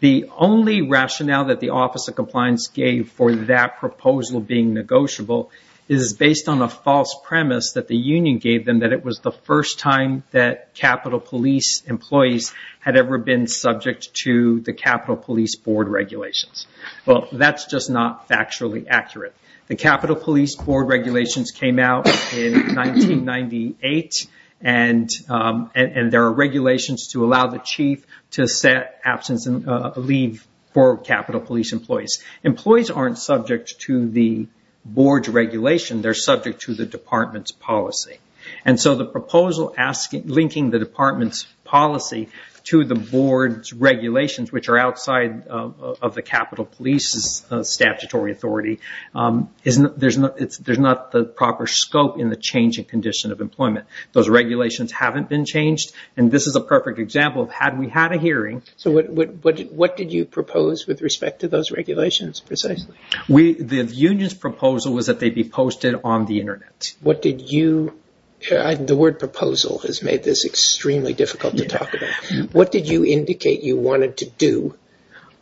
The only rationale that the Office of Compliance gave for that proposal being negotiable is based on a false premise that the union gave them, that it was the first time that Capitol Police employees had ever been subject to the Capitol Police Board regulations. Well, that's just not factually accurate. The Capitol Police Board regulations came out in 1998, and there are regulations to allow the chief to set absence and leave for Capitol Police employees. Employees aren't subject to the board's regulation. They're subject to the department's policy. And so the proposal linking the department's policy to the board's regulations, which are outside of the Capitol Police's statutory authority, there's not the proper scope in the changing condition of employment. Those regulations haven't been changed, and this is a perfect example of how we had a hearing. So what did you propose with respect to those regulations, precisely? The union's proposal was that they be posted on the Internet. What did you—the word proposal has made this extremely difficult to talk about. What did you indicate you wanted to do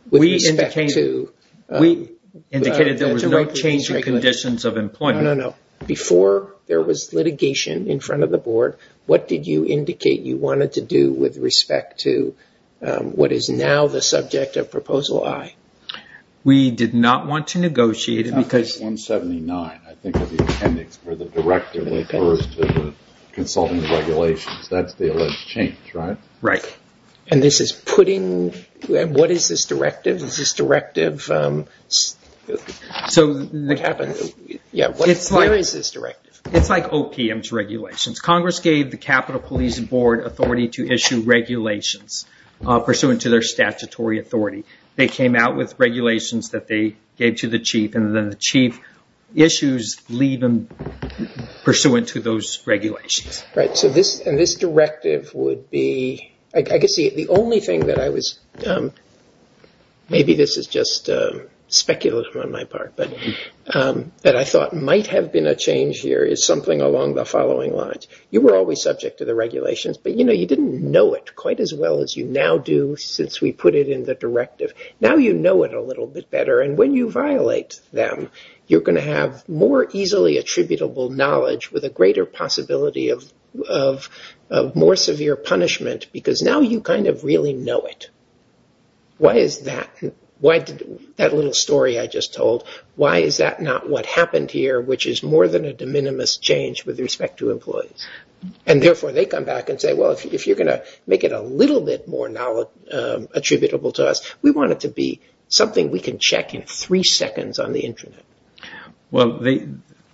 with respect to— We indicated there was no change in conditions of employment. No, no, no. Before there was litigation in front of the board, what did you indicate you wanted to do with respect to what is now the subject of Proposal I? We did not want to negotiate it because— 179, I think, is the appendix where the directive refers to the consultant's regulations. That's the alleged change, right? Right. And this is putting—what is this directive? Is this directive—so, yeah, what is this directive? It's like OPM's regulations. Congress gave the Capitol Police Board authority to issue regulations pursuant to their statutory authority. They came out with regulations that they gave to the chief, and then the chief issues leave them pursuant to those regulations. Right. So this directive would be—I guess the only thing that I was— maybe this is just speculative on my part, but I thought might have been a change here is something along the following lines. You were always subject to the regulations, but you didn't know it quite as well as you now do since we put it in the directive. Now you know it a little bit better, and when you violate them, you're going to have more easily attributable knowledge with a greater possibility of more severe punishment because now you kind of really know it. Why is that—that little story I just told, why is that not what happened here, which is more than a de minimis change with respect to employees? And therefore, they come back and say, well, if you're going to make it a little bit more attributable to us, we want it to be something we can check in three seconds on the Internet. Well,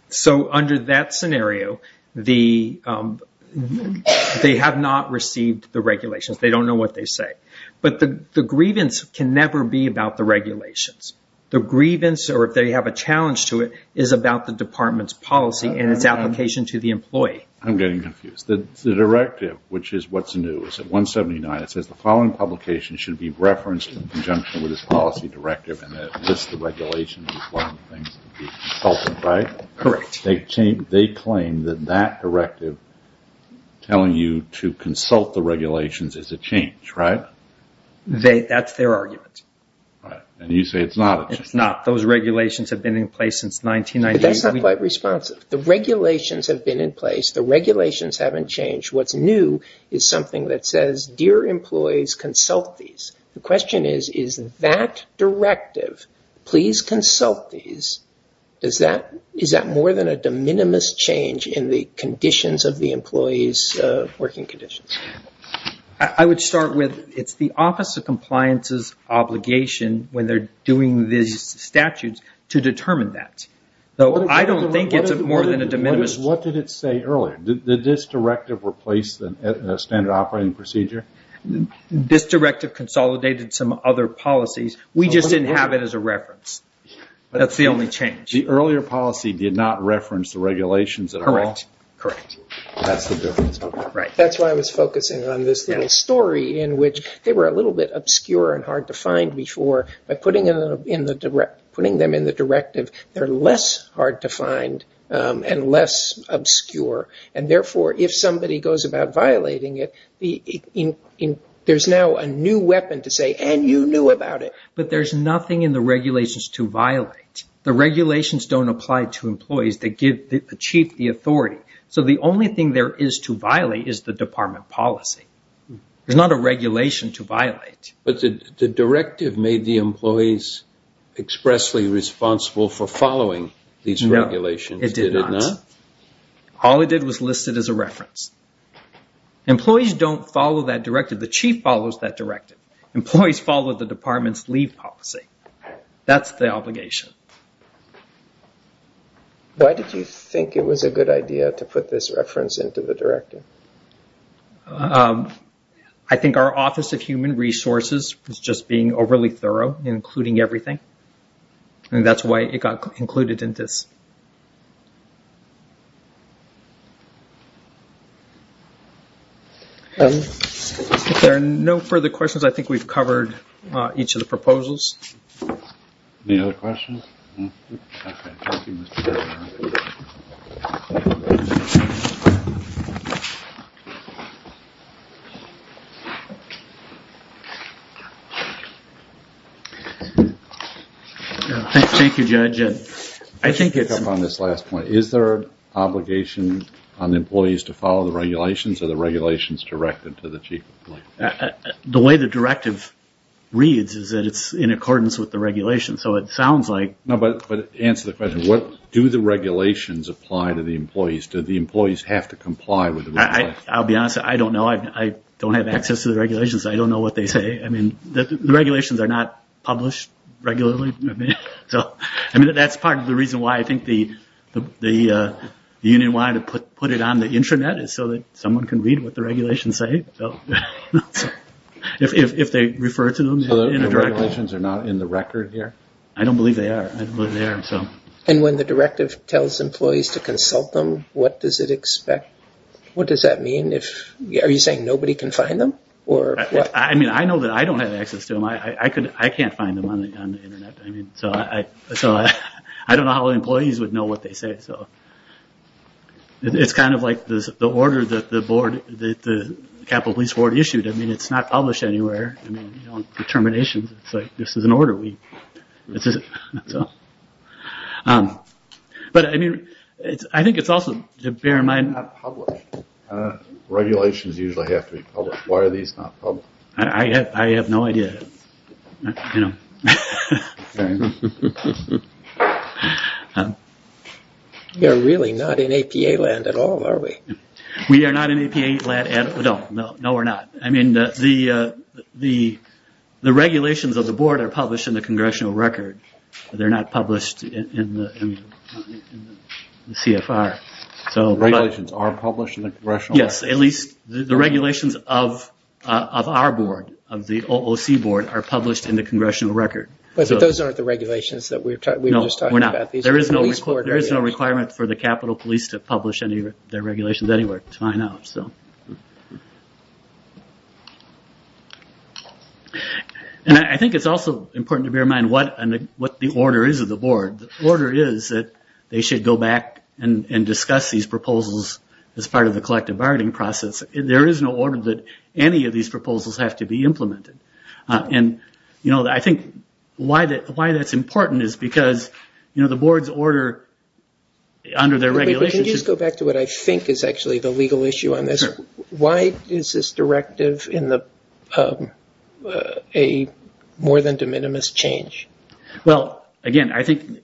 so under that scenario, they have not received the regulations. They don't know what they say. But the grievance can never be about the regulations. The grievance, or if they have a challenge to it, is about the department's policy and its application to the employee. I'm getting confused. The directive, which is what's new, is at 179. It says the following publication should be referenced in conjunction with this policy directive and that it lists the regulations as one of the things to be consulted by. Correct. They claim that that directive telling you to consult the regulations is a change, right? That's their argument. And you say it's not a change. It's not. Those regulations have been in place since 1998. That's not quite responsive. The regulations have been in place. The regulations haven't changed. What's new is something that says, dear employees, consult these. The question is, is that directive, please consult these, is that more than a de minimis change in the conditions of the employees' working conditions? I would start with it's the Office of Compliance's obligation when they're doing these statutes to determine that. I don't think it's more than a de minimis. What did it say earlier? Did this directive replace the standard operating procedure? This directive consolidated some other policies. We just didn't have it as a reference. That's the only change. The earlier policy did not reference the regulations at all? Correct. That's the difference. Right. That's why I was focusing on this story in which they were a little bit obscure and hard to find before, but putting them in the directive, they're less hard to find and less obscure. And therefore, if somebody goes about violating it, there's now a new weapon to say, and you knew about it. But there's nothing in the regulations to violate. The regulations don't apply to employees. They give the chief the authority. So the only thing there is to violate is the department policy. There's not a regulation to violate. But the directive made the employees expressly responsible for following these regulations. No, it did not. It did not? All it did was list it as a reference. Employees don't follow that directive. The chief follows that directive. Employees follow the department's leave policy. That's the obligation. Why did you think it was a good idea to put this reference into the directive? I think our Office of Human Resources was just being overly thorough in including everything, and that's why it got included in this. Any other questions? There are no further questions. I think we've covered each of the proposals. Any other questions? Is there an obligation on employees to follow the regulations or the regulations directed to the chief? The way the directive reads is that it's in accordance with the regulations. So it sounds like... No, but answer the question. Do the regulations apply to the employees? Do the employees have to comply with the regulations? I'll be honest. I don't know. I don't have access to the regulations. I don't know what they say. The regulations are not published regularly. That's part of the reason why I think the union wanted to put it on the intranet is so that someone can read what the regulations say. If they refer to them. So the regulations are not in the record here? I don't believe they are. And when the directive tells employees to consult them, what does it expect? What does that mean? Are you saying nobody can find them? I know that I don't have access to them. I can't find them on the internet. I don't know how employees would know what they say. It's kind of like the order that the Capital Police Board issued. I mean, it's not published anywhere. You don't determine an issue. It's like this is an order. I think it's also, to bear in mind... It's not published. Regulations usually have to be published. Why are these not published? I have no idea. I don't know. We are really not in APA land at all, are we? We are not in APA land at all. No, we're not. I mean, the regulations of the board are published in the Congressional Record. They're not published in the CFR. The regulations are published in the Congressional Record. Yes, at least the regulations of our board, of the OOC board, are published in the Congressional Record. But those aren't the regulations that we were just talking about. No, we're not. There is no requirement for the Capital Police to publish their regulations anywhere to find out. And I think it's also important to bear in mind what the order is of the board. The order is that they should go back and discuss these proposals as part of the collective bargaining process. There is no order that any of these proposals have to be implemented. And I think why that's important is because the board's order under their regulations... Could you just go back to what I think is actually the legal issue on this? Why is this directive a more than de minimis change? Well, again, I think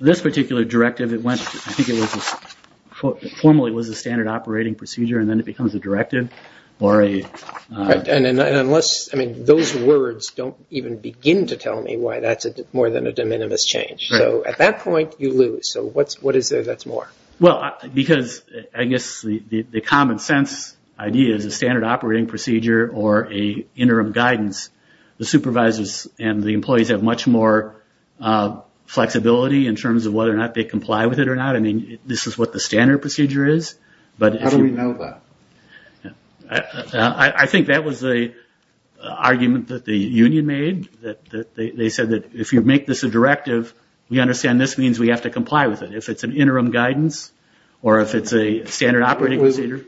this particular directive, it went... I think it formally was a standard operating procedure and then it becomes a directive or a... And unless... I mean, those words don't even begin to tell me why that's more than a de minimis change. So at that point, you lose. So what is it that's more? Well, because I guess the common sense idea is a standard operating procedure or an interim guidance. The supervisors and the employees have much more flexibility in terms of whether or not they comply with it or not. I mean, this is what the standard procedure is. How do we know that? I think that was the argument that the union made. They said that if you make this a directive, we understand this means we have to comply with it. If it's an interim guidance or if it's a standard operating procedure.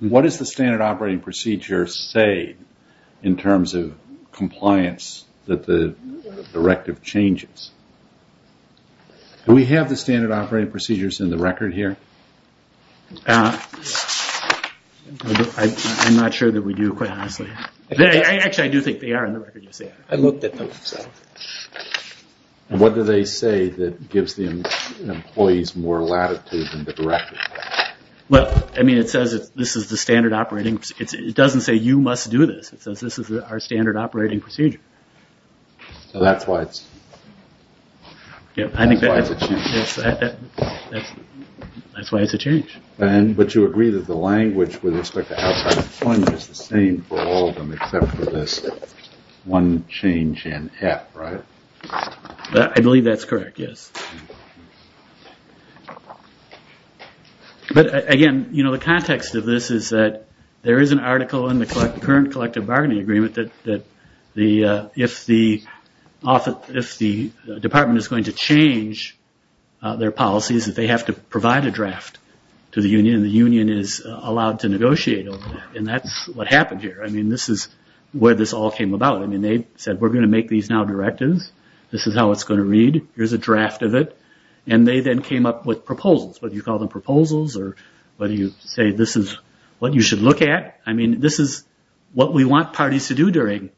What does the standard operating procedure say in terms of compliance that the directive changes? Do we have the standard operating procedures in the record here? I'm not sure that we do quite honestly. Actually, I do think they are in the record. I looked at those. What do they say that gives the employees more latitude in the directive? Well, I mean, it says that this is the standard operating. It doesn't say you must do this. This is our standard operating procedure. So that's why it's a change. But you agree that the language with respect to outside employment is the same for all of them except for this one change in F, right? I believe that's correct, yes. But again, you know, the context of this is that there is an article in the current collective bargaining agreement that if the department is going to change, their policy is that they have to provide a draft to the union and the union is allowed to negotiate over that. And that's what happened here. I mean, this is where this all came about. I mean, they said we're going to make these now directives. This is how it's going to read. Here's a draft of it. And they then came up with proposals, whether you call them proposals or whether you say this is what you should look at. I mean, this is what we want parties to do during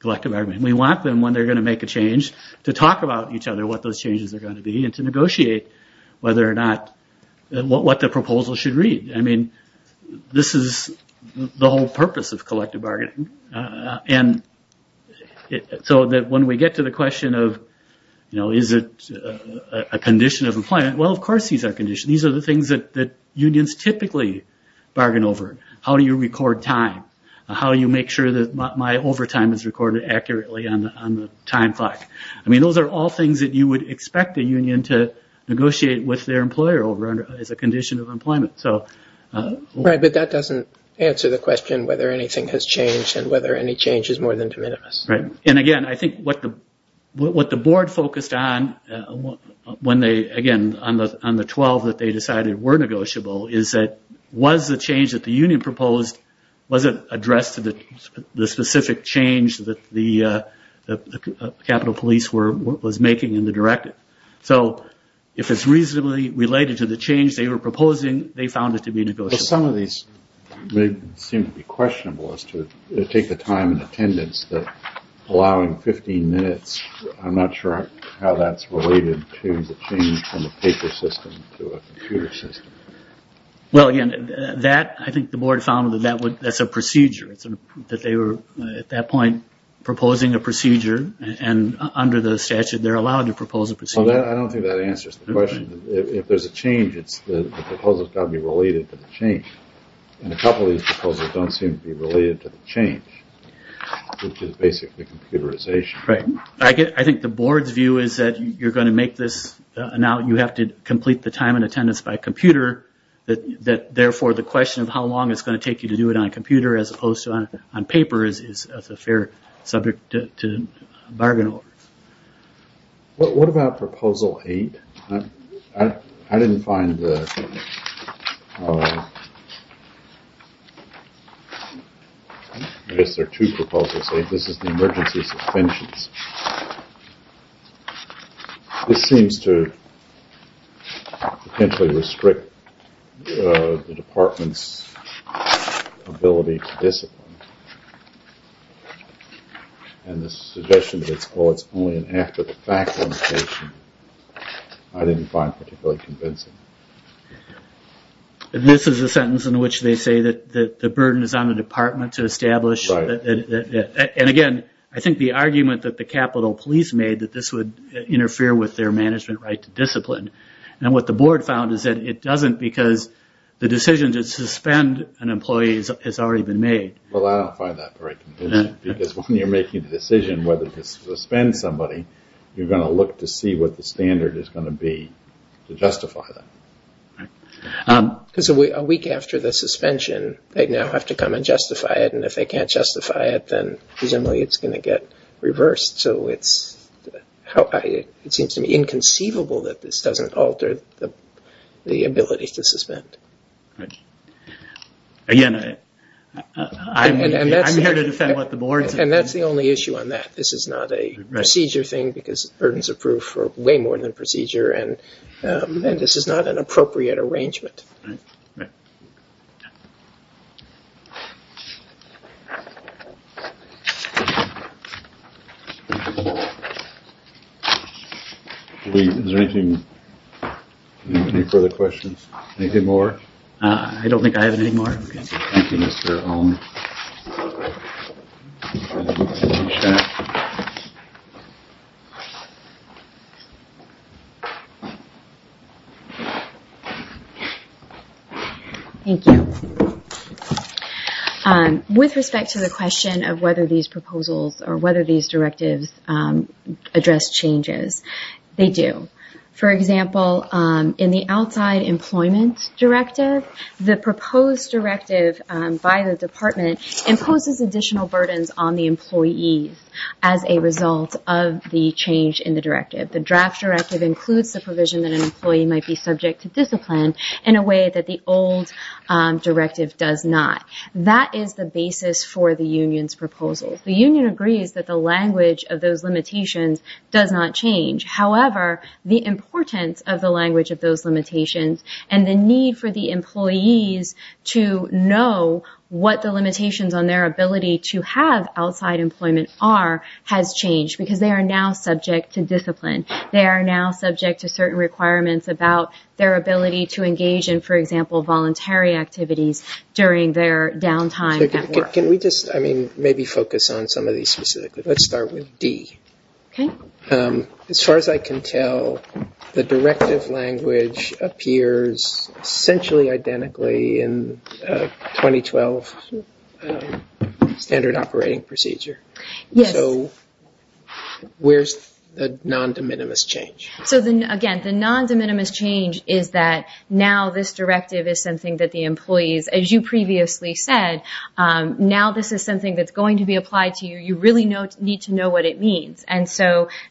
collective bargaining. We want them when they're going to make a change to talk about each other what those changes are going to be and to negotiate whether or not what the proposal should read. I mean, this is the whole purpose of collective bargaining. And so that when we get to the question of, you know, is it a condition of employment? Well, of course these are conditions. These are the things that unions typically bargain over. How do you record time? How do you make sure that my overtime is recorded accurately on the time clock? I mean, those are all things that you would expect a union to negotiate with their employer over as a condition of employment. Right, but that doesn't answer the question whether anything has changed and whether any change is more than de minimis. And, again, I think what the board focused on when they, again, on the 12 that they decided were negotiable, is that was the change that the union proposed, was it addressed to the specific change that the capital police was making in the directive? So if it's reasonably related to the change they were proposing, they found it to be negotiable. Well, some of these may seem to be questionable as to take the time and attendance that allowing 15 minutes, I'm not sure how that's related to the change from a paper system to a computer system. Well, again, that I think the board found that that's a procedure, that they were at that point proposing a procedure, and under the statute they're allowed to propose a procedure. No, I don't think that answers the question. If there's a change, the proposal's got to be related to the change, and a couple of these proposals don't seem to be related to the change, which is basically computerization. Right. I think the board's view is that you're going to make this, now you have to complete the time and attendance by computer, that therefore the question of how long it's going to take you to do it on a computer as opposed to on paper is a fair subject to bargain over. What about Proposal 8? I didn't find the sentence. I guess there are two proposals, so this is the emergency suspension. This seems to potentially restrict the department's ability to discipline, and the suggestion that it's only an after-the-fact limitation, I didn't find particularly convincing. This is a sentence in which they say that the burden is on the department to establish, and again, I think the argument that the Capitol Police made that this would interfere with their management right to discipline, and what the board found is that it doesn't because the decision to suspend an employee has already been made. Well, I don't find that very convincing, because when you're making the decision whether to suspend somebody, you're going to look to see what the standard is going to be to justify that. Because a week after the suspension, they now have to come and justify it, and if they can't justify it, then presumably it's going to get reversed, so it seems to be inconceivable that this doesn't alter the ability to suspend. Again, I'm here to defend what the board found. And that's the only issue on that. This is not a procedure thing, because burdens approve for way more than procedure, and this is not an appropriate arrangement. All right. Thank you. With respect to the question of whether these proposals or whether these directives address changes, they do. For example, in the outside employment directive, the proposed directive by the department imposes additional burdens on the employees as a result of the change in the directive. The draft directive includes the provision that an employee might be subject to discipline in a way that the old directive does not. That is the basis for the union's proposal. The union agrees that the language of those limitations does not change. However, the importance of the language of those limitations and the need for the employees to know what the limitations on their ability to have outside employment are has changed, because they are now subject to discipline. They are now subject to certain requirements about their ability to engage in, for example, voluntary activities during their downtime. Can we just maybe focus on some of these specifically? Let's start with D. Okay. As far as I can tell, the directive language appears essentially identically in 2012 standard operating procedure. Yes. Where is the non-de minimis change? Again, the non-de minimis change is that now this directive is something that the employees, as you previously said, now this is something that's going to be applied to you. You really need to know what it means.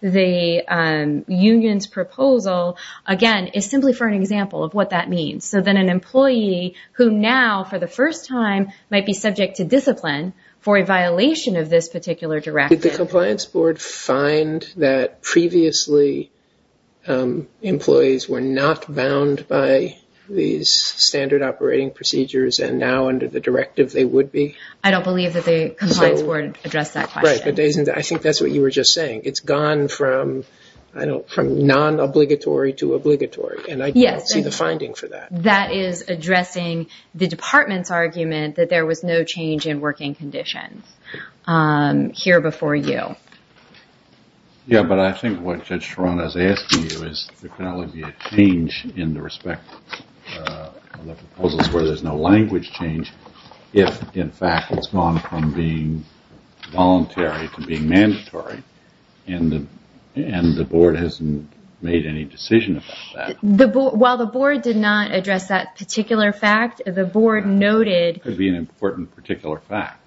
The union's proposal, again, is simply for an example of what that means. So then an employee who now, for the first time, might be subject to discipline for a violation of this particular directive. Did the compliance board find that previously employees were not bound by these standard operating procedures and now under the directive they would be? I don't believe that the compliance board addressed that question. I think that's what you were just saying. It's gone from non-obligatory to obligatory. And I don't see the finding for that. That is addressing the department's argument that there was no change in working condition here before you. Yeah, but I think what Judge Toronto is asking you is to acknowledge the change in the respect of the proposals where there's no language change if, in fact, it's gone from being voluntary to being mandatory and the board hasn't made any decision about that. While the board did not address that particular fact, the board noted... It could be an important particular fact.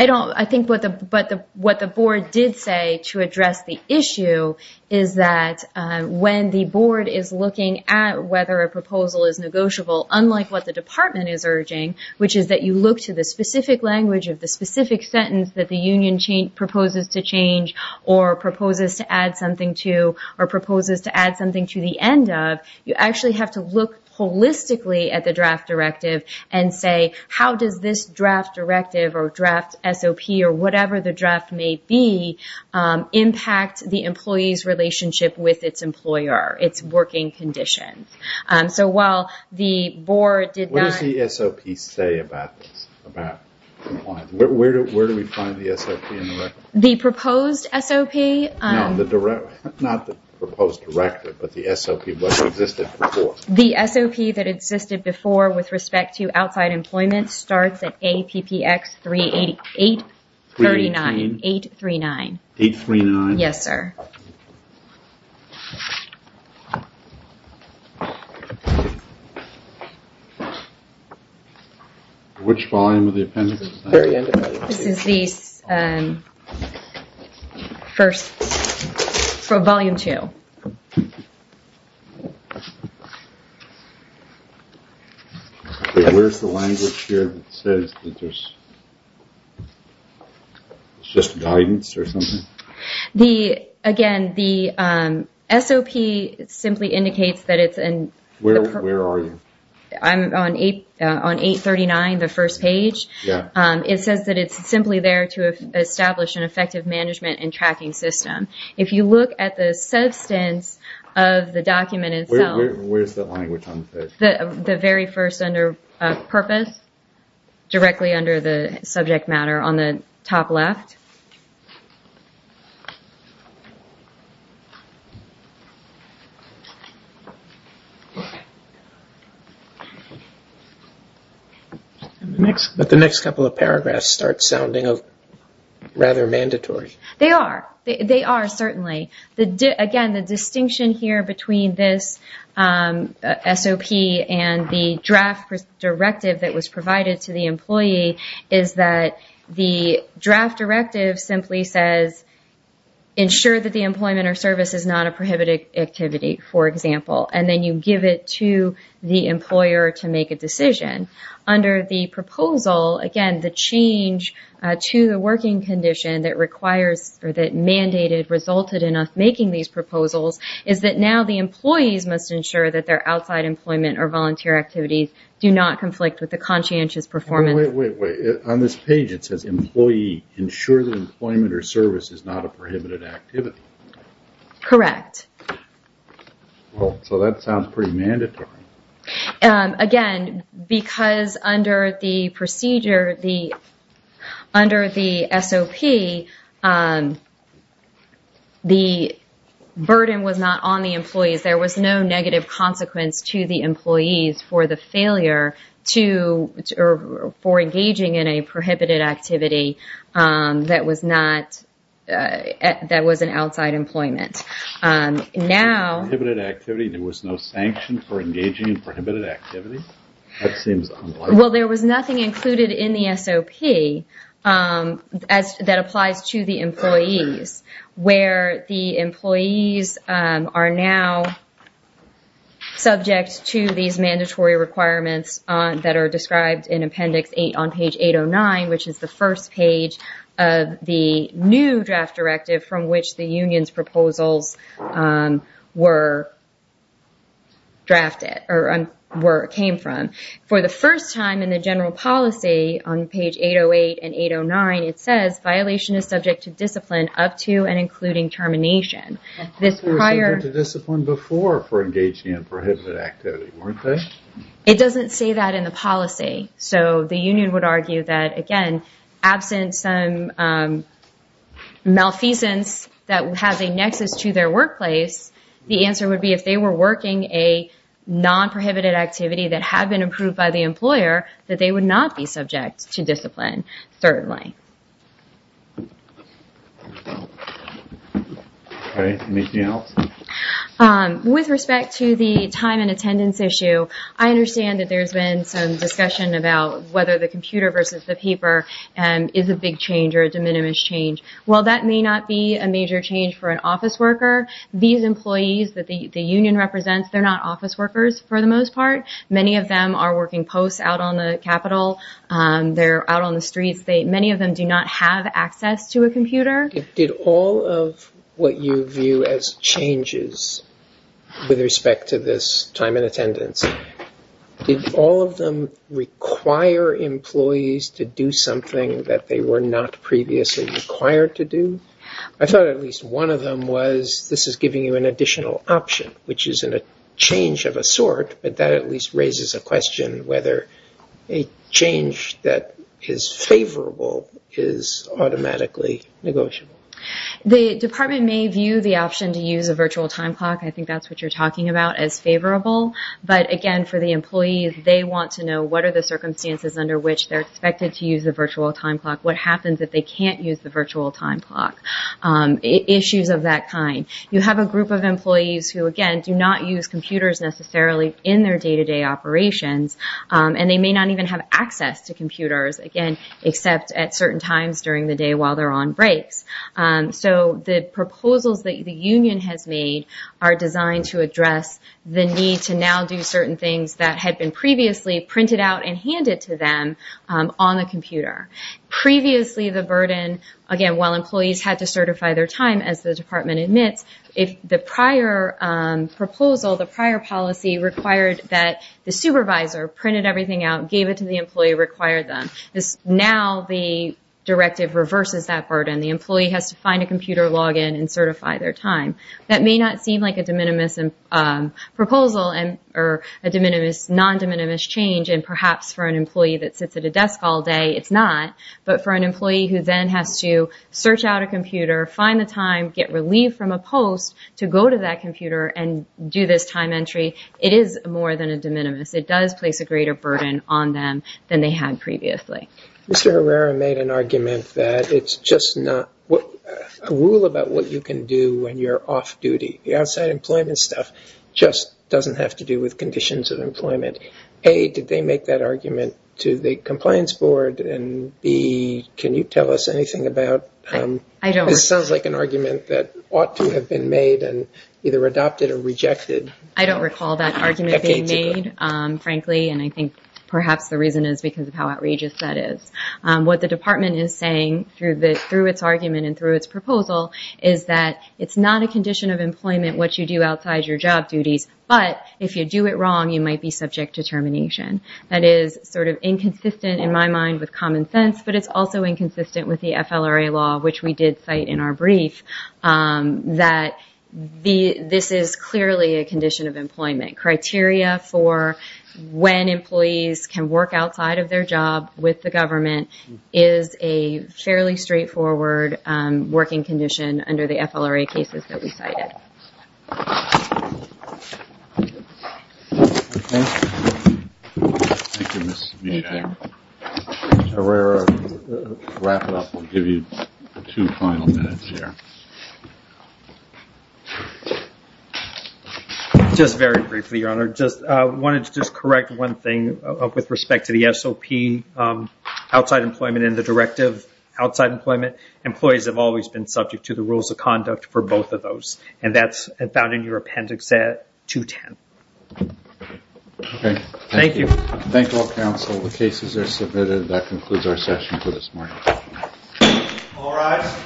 I think what the board did say to address the issue is that when the board is looking at whether a proposal is negotiable, unlike what the department is urging, which is that you look to the specific language of the specific sentence that the union proposes to change or proposes to add something to or proposes to add something to the end of, you actually have to look holistically at the draft directive and say, how does this draft directive or draft SOP or whatever the draft may be impact the employee's relationship with its employer, its working condition? So while the board did not... What does the SOP say about employment? Where do we find the SOP? The proposed SOP... No, not the proposed directive, but the SOP that existed before. The SOP that existed before with respect to outside employment starts at APPX 839. 839? Yes, sir. Which volume of the appendix? This is the first... Volume 2. Where's the language here that says that this is just guidance or something? Again, the SOP simply indicates that it's an... Where are you? I'm on 839, the first page. It says that it's simply there to establish an effective management and tracking system. If you look at the substance of the document itself... Where's the language on the page? The very first under purpose, directly under the subject matter on the top left. The next couple of paragraphs start sounding rather mandatory. They are. They are, certainly. Again, the distinction here between this SOP and the draft directive that was provided to the employee is that the draft directive simply says, ensure that the employment or service is not a prohibited activity, for example. Then you give it to the employer to make a decision. Under the proposal, again, the change to the working condition that required or that mandated resulted in us making these proposals is that now the employees must ensure that their outside employment or volunteer activities do not conflict with the conscientious performance. Wait, wait, wait. On this page, it says employee ensures that employment or service is not a prohibited activity. Correct. That sounds pretty mandatory. Again, because under the procedure, under the SOP, the burden was not on the employees. There was no negative consequence to the employees for the failure to... or for engaging in a prohibited activity that was an outside employment. Now... Prohibited activity, there was no sanction for engaging in prohibited activity? That seems unlikely. Well, there was nothing included in the SOP that applies to the employees, where the employees are now subject to these mandatory requirements that are described in Appendix 8 on page 809, which is the first page of the new draft directive from which the union's proposal were drafted or where it came from. For the first time in the general policy on page 808 and 809, it says, violation is subject to discipline up to and including termination. This prior... Discipline before for engaging in prohibited activity, weren't they? It doesn't say that in the policy. So the union would argue that, again, absent some malfeasance that would have a nexus to their workplace, the answer would be if they were working a non-prohibited activity that had been approved by the employer, that they would not be subject to discipline, certainly. All right. Ms. Neal? With respect to the time and attendance issue, I understand that there's been some discussion about whether the computer versus the paper is a big change or is a minimalist change. Well, that may not be a major change for an office worker. These employees that the union represents, they're not office workers for the most part. Many of them are working post out on the Capitol. They're out on the streets. Many of them do not have access to a computer. Did all of what you view as changes with respect to this time and attendance, did all of them require employees to do something that they were not previously required to do? I thought at least one of them was this is giving you an additional option, which isn't a change of a sort, but that at least raises a question whether a change that is favorable is automatically negotiable. The department may view the option to use a virtual time clock, I think that's what you're talking about, as favorable. But, again, for the employees, they want to know what are the circumstances under which they're expected to use a virtual time clock, what happens if they can't use the virtual time clock, issues of that kind. You have a group of employees who, again, do not use computers necessarily in their day-to-day operations, and they may not even have access to computers, again, except at certain times during the day while they're on break. So the proposals that the union has made are designed to address the need to now do certain things that had been previously printed out and handed to them on the computer. Previously, the burden, again, while employees had to certify their time, as the department admits, the prior proposal, the prior policy required that the supervisor printed everything out, gave it to the employee, required them. Now the directive reverses that burden. The employee has to find a computer, log in, and certify their time. That may not seem like a de minimis proposal or a non-de minimis change, and perhaps for an employee that sits at a desk all day, it's not, but for an employee who then has to search out a computer, find the time, get relief from a post, to go to that computer and do this time entry, it is more than a de minimis. It does place a greater burden on them than they had previously. Mr. Herrera made an argument that it's just not a rule about what you can do when you're off-duty. The outside employment stuff just doesn't have to do with conditions of employment. A, did they make that argument to the compliance board? And B, can you tell us anything about sort of like an argument that ought to have been made and either adopted or rejected? I don't recall that argument being made, frankly, and I think perhaps the reason is because of how outrageous that is. What the department is saying through its argument and through its proposal is that it's not a condition of employment what you do outside your job duties, but if you do it wrong, you might be subject to termination. That is sort of inconsistent in my mind with common sense, but it's also inconsistent with the FLRA law, which we did cite in our brief, that this is clearly a condition of employment. Criteria for when employees can work outside of their job with the government is a fairly straightforward working condition under the FLRA cases that we cited. Thank you. Thank you, Mr. Mead. Herrera, to wrap it up, we'll give you two final minutes here. Just very briefly, Your Honor. I wanted to just correct one thing with respect to the SOP, outside employment and the directive outside employment. Employees have always been subject to the rules of conduct for both of those, and that's found in your appendix at 210. Okay. Thank you. Thank you all, counsel. The case is as submitted. That concludes our session for this morning. All rise.